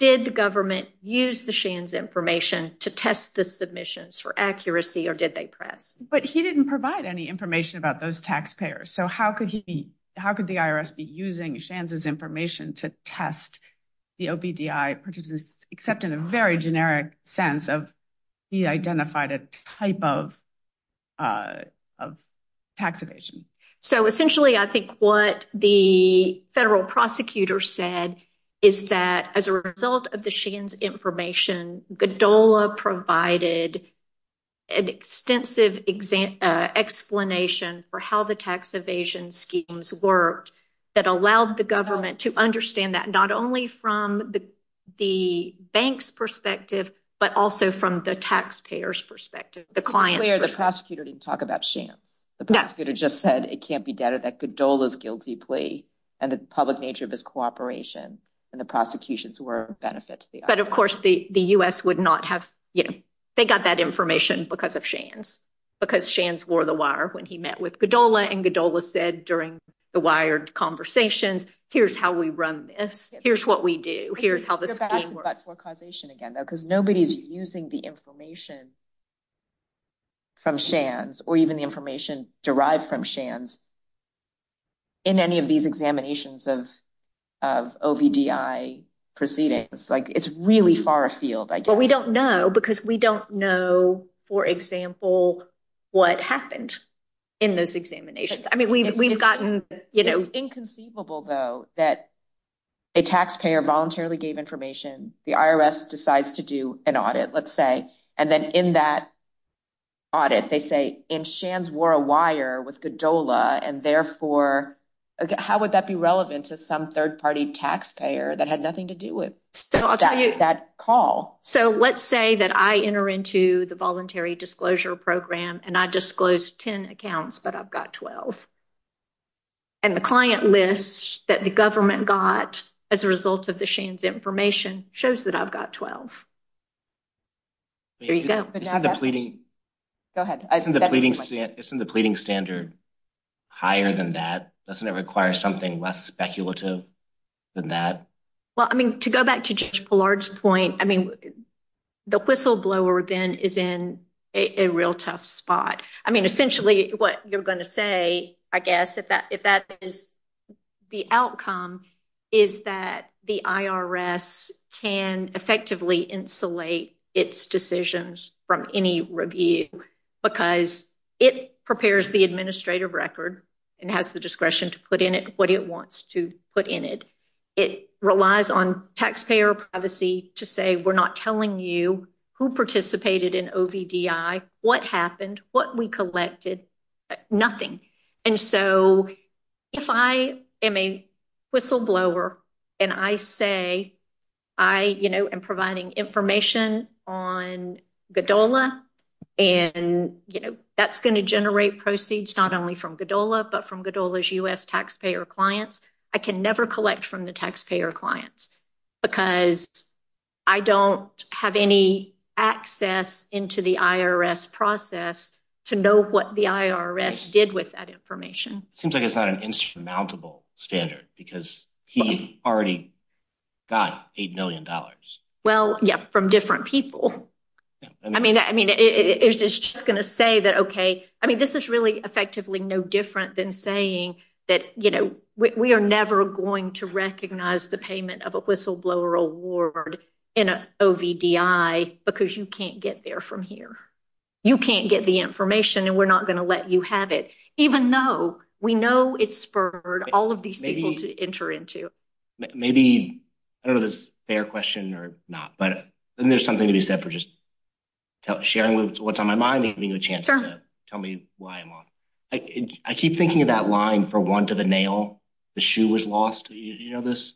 did the government use the Shane's information to test the submissions for accuracy? Or did they press, but he didn't provide any information about those taxpayers. So, how could he, how could the IRS be using chances information to test the, except in a very generic sense of he identified a type of. Tax evasion. So, essentially, I think what the federal prosecutor said is that as a result of the Shane's information, Godola provided an extensive example explanation for how the tax evasion schemes worked that allowed the government to understand that. Not only from the, the bank's perspective, but also from the taxpayers perspective, the client, the prosecutor didn't talk about shame. The prosecutor just said, it can't be doubted that Godola's guilty plea and the public nature of his cooperation and the prosecution's were benefits. But, of course, the, the US would not have, they got that information because of Shane's, because Shane's wore the wire when he met with Godola and Godola said, during the wired conversations, here's how we run this. Here's what we do. Here's how the causation again, because nobody's using the information from Shands or even the information derived from Shands in any of these examinations of proceeding. It's like, it's really far field. But we don't know, because we don't know, for example, what happened in those examinations. I mean, we've, we've gotten, you know, inconceivable, that a taxpayer voluntarily gave information. The IRS decides to do an audit, let's say, and then in that audit, they say in Shands wore a wire with Godola. And therefore, how would that be relevant to some third party taxpayer that had nothing to do with that call? So, let's say that I enter into the voluntary disclosure program, and I disclosed 10 accounts, but I've got 12 and the client list that the government got as a result of the Shane's information. Shows that I've got 12. There you go. Go ahead. Isn't the pleading standard higher than that? Doesn't it require something less speculative than that? Well, I mean, to go back to George's point, I mean, the whistleblower then is in a real tough spot. I mean, essentially what you're going to say, I guess, if that is the outcome, is that the IRS can effectively insulate its decisions from any review because it prepares the administrative record and has the discretion to put in it. What do you want to put in it? It relies on taxpayer privacy to say, we're not telling you who participated in what happened what we collected nothing. And so, if I am a whistleblower, and I say, I am providing information on the dollar, and that's going to generate proceeds, not only from the dollar, but from the US taxpayer clients. I can never collect from the taxpayer clients because I don't have any access into the IRS process to know what the IRS did with me. It seems like it's not an insurmountable standard because he already got a million dollars. Well, yeah, from different people. I mean, I mean, it's just going to say that. Okay. I mean, this is really effectively no different than saying that we are never going to recognize the payment of a whistleblower award in a because you can't get there from here. You can't get the information and we're not going to let you have it. Even though we know it's for all of these people to enter into. Maybe a fair question or not, but then there's something to be said for just sharing what's on my mind. Give me a chance to tell me why I keep thinking about line for one to the nail. The shoe was lost. You know, this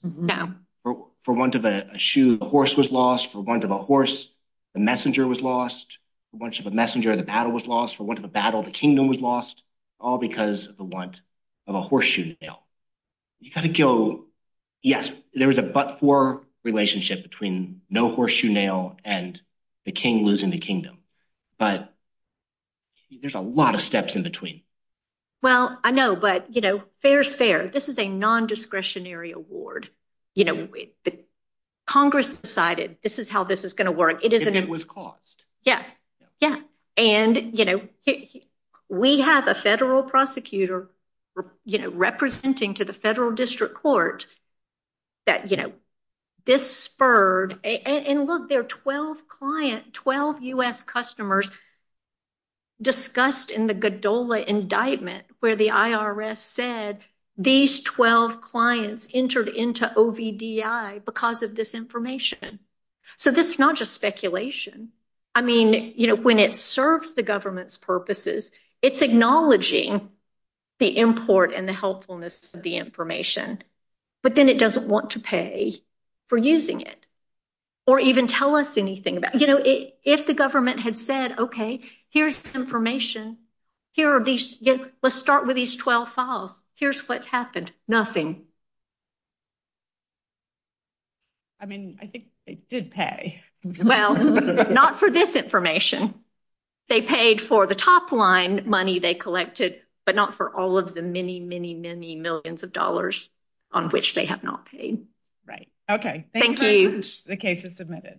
for one to the shoe, the horse was lost for one to the horse. The messenger was lost. A bunch of a messenger of the battle was lost for one of the battle. The kingdom was lost all because of the want of a horseshoe. Now, you've got to go. Yes, there is a, but for relationship between no horseshoe nail and the king losing the kingdom, but there's a lot of steps in between. Well, I know, but, you know, fair is fair. This is a nondiscretionary award. You know, Congress decided this is how this is going to work. It is. And it was cost. Yeah. Yeah. And, you know, we have a federal prosecutor, you know, representing to the federal district court that, you know, this spurred and look, there are 12 client, 12 us customers discussed in the Godola indictment where the IRS said, these 12 clients entered into OBDI because of this information. So this is not just speculation. I mean, you know, when it serves the government's purposes, it's acknowledging the import and the helpfulness of the information, but then it doesn't want to pay for using it or even tell us anything about, you know, if the government had said, okay, here's information. Here are these, let's start with these 12 files. Here's what happened. Nothing. I mean, I think it did pay. Well, not for this information. They paid for the top line money they collected, but not for all of the many, many, many millions of dollars on which they have not paid. Right. Okay. Thank you. The case is submitted.